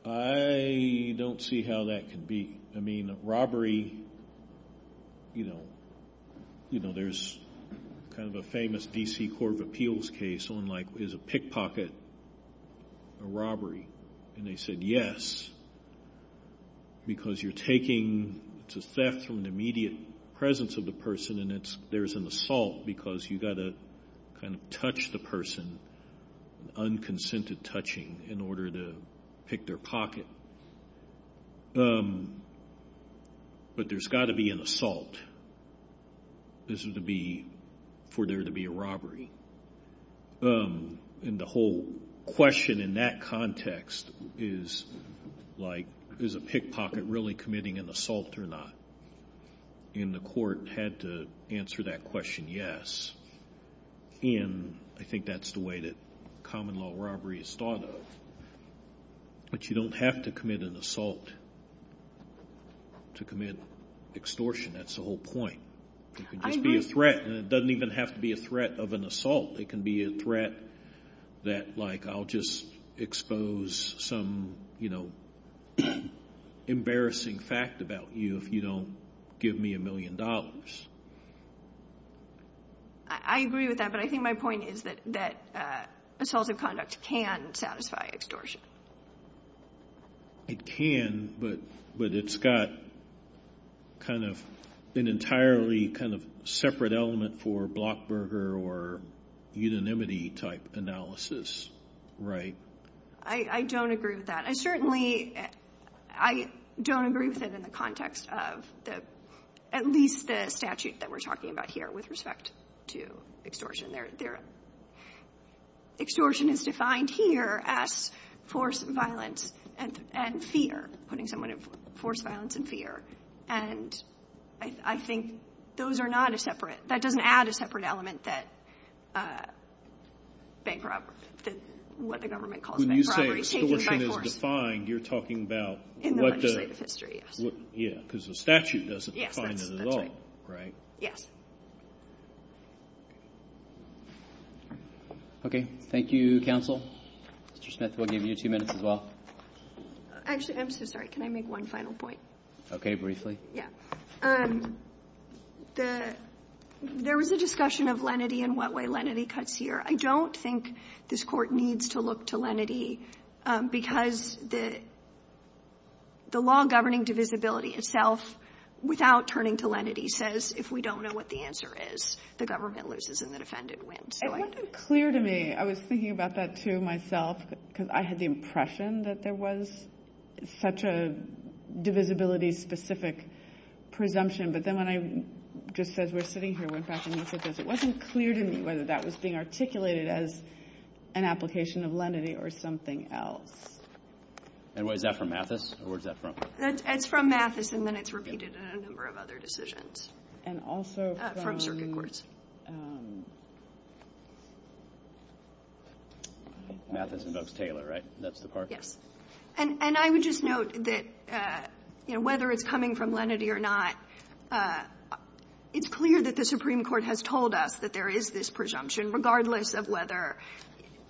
I, don't see how that could be, I mean, robbery, you know, you know, there's, kind of a famous, D.C. court of appeals case, on like, is a pickpocket, a robbery. And they said yes, because you're taking, to theft, from the immediate, presence of the person, and it's, there's an assault, because you gotta, kind of touch the person, unconsented touching, in order to, pick their pocket. Um, but there's gotta be an assault, isn't to be, for there to be a robbery. Um, and the whole, question in that context, is, like, is a pickpocket, really committing an assault, or not? And the court, had to, answer that question, yes. And, I think that's the way that, common law robbery is thought of. But you don't have to commit an assault, to commit, extortion, that's the whole point. It could just be a threat, and it doesn't even have to be a threat, of an assault, it can be a threat, that like, I'll just expose, some, you know, embarrassing fact about you, if you don't, give me a million dollars. I agree with that, but I think my point is that, that, assaultive conduct can, satisfy extortion. It can, but, but it's got, kind of, an entirely, kind of, separate element for, blockburger, or, unanimity type, analysis, right? I, I don't agree with that. I certainly, I, don't agree with it in the context, of, the, at least the statute, that we're talking about here, with respect to, extortion. there, extortion is defined here, as, forced violence, and, and fear, putting someone in, forced violence and fear, and, I, I think, those are not a separate, that doesn't add a separate element, that, bankruptcy, what the government calls bankruptcy, changes by force. When you say extortion is defined, you're talking about, what the, what, what, yeah, because the statute, doesn't define it at all, right? Yes. Okay. Thank you, counsel. Mr. Smith, we'll give you two minutes, as well. Actually, I'm so sorry, can I make one final point? Okay, briefly. Yeah. The, there was a discussion of, lenity and what way, lenity cuts here. I don't think, this court needs to look to, lenity, because the, the law governing divisibility, itself, without turning to lenity, says, if we don't know what the answer is, the government loses, and the defendant wins. It wasn't clear to me, I was thinking about that, too, myself, because I had the impression, that there was, such a, divisibility, specific, presumption, but then when I, just as we're sitting here, went back and he said this, it wasn't clear to me, whether that was being, articulated as, an application of lenity, or something else. And was that from Mathis, or was that from? It's, it's from Mathis, and then it's repeated, in a number of other decisions. And also, from circuit courts. Mathis invokes Taylor, right? That's the part. And, and I would just note, that, you know, whether it's coming from lenity, or not, it's clear, that the Supreme Court, has told us, that there is this presumption, regardless of whether,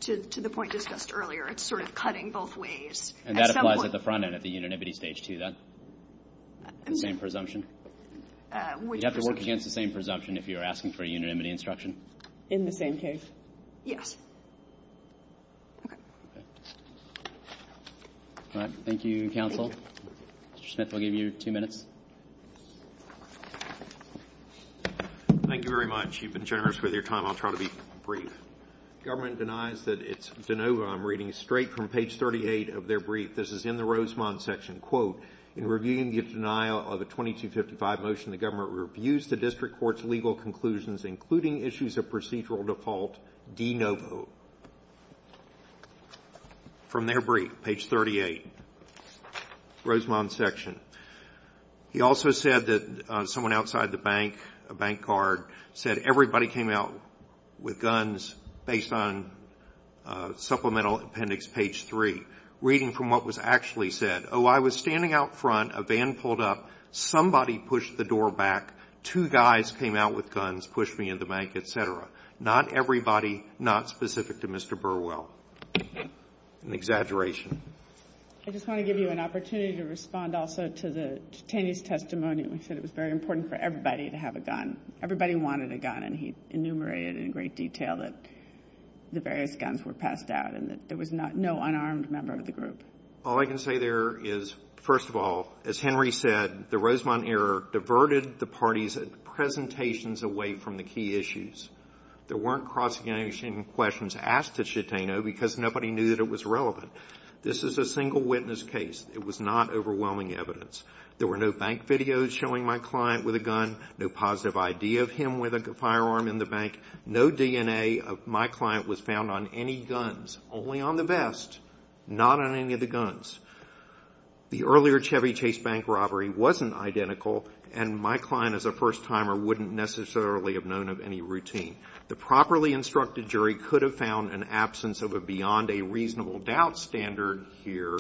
to, to the point discussed earlier, it's sort of cutting both ways. And that applies, at the front end, at the unanimity stage too, that, same presumption? You have to work against, the same presumption, if you're asking for, a unanimity instruction? In the same case? Yes. Okay. All right, thank you, counsel. Mr. Schnipp, I'll give you two minutes. Thank you very much. You've been generous, with your time. I'll try to be brief. Government denies, that it's de novo, I'm reading, straight from page 38, of their brief. This is in the Rosemont section. in reviewing the denial, of the 2255 motion, the government, reviews the district court's, legal conclusions, including issues, of procedural default, de novo. From their brief, page 38. Rosemont section. He also said, that someone outside the bank, a bank card, said, everybody came out, with guns, based on, supplemental appendix, page three. Reading from, what was actually said. Oh, I was standing out front, a van pulled up, somebody pushed the door back, two guys came out, with guns, pushed me in the bank, et cetera. Not everybody, not specific, to Mr. Burwell. An exaggeration. I just want to give you, an opportunity, to respond also, to the, testimony. It was very important, for everybody, to have a gun. Everybody wanted a gun, and he enumerated, in great detail, that the various guns, were passed out, and that there was not, no unarmed member, of the group. All I can say there, is, first of all, as Henry said, the Rosemont error, diverted the parties, at the presentations, away from the key issues. There weren't, cross-examination questions, asked at Chatano, because nobody knew, that it was relevant. This is a single witness case. It was not, overwhelming evidence. There were no bank videos, showing my client, with a gun, no positive idea, of him, with a firearm, in the bank. No DNA, of my client, was found on any guns. Only on the vest. Not on any of the guns. The earlier, Chevy Chase bank robbery, wasn't identical, and my client, as a first timer, wouldn't necessarily, have known of any routine. The properly instructed jury, could have found, an absence of a, beyond a reasonable, doubt standard, here.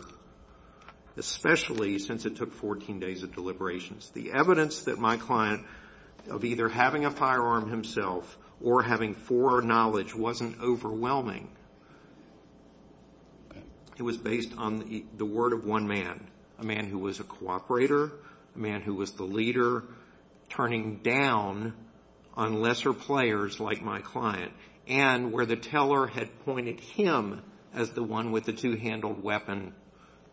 Especially, since it took 14 days, of deliberations. The evidence, that my client, of either, having a firearm, himself, or having fore knowledge, wasn't overwhelming. It was based on, the word of one man. A man, who was a cooperator. A man, who was the leader, turning down, on lesser players, like my client. And, where the teller, had pointed him, as the one, with the two handled weapon,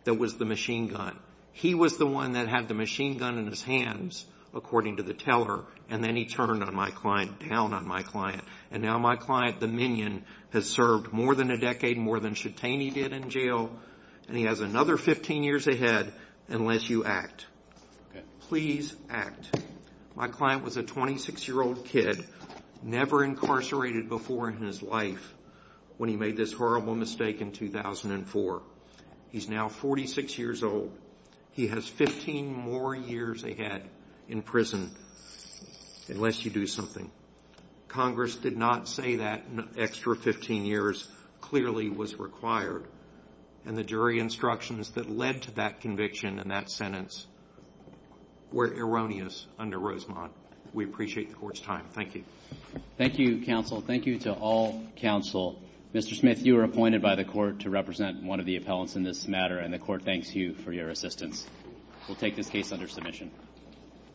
that was the machine gun. He was the one, that had the machine gun, in his hands, according to the teller. And then, he turned on my client, down on my client. And now, my client, the minion, has served, more than a decade, more than Chitaney did, in jail. And he has another, 15 years ahead, unless you act. Please, act. My client, was a 26 year old kid, never incarcerated, before, in his life, when he made, this horrible mistake, in 2004. He's now, 46 years old. He has, 15 more years, ahead, in prison, unless you do something. Congress, did not say that, extra 15 years, clearly, was required. And the jury instructions, that led to that conviction, and that sentence, were erroneous, under Rosemont. We appreciate the court's time. Thank you. Thank you, counsel. Thank you to all, counsel. Mr. Smith, you were appointed by the court, to represent one of the appellants, in this matter. And the court thanks you, for your assistance. We'll take this case, under submission.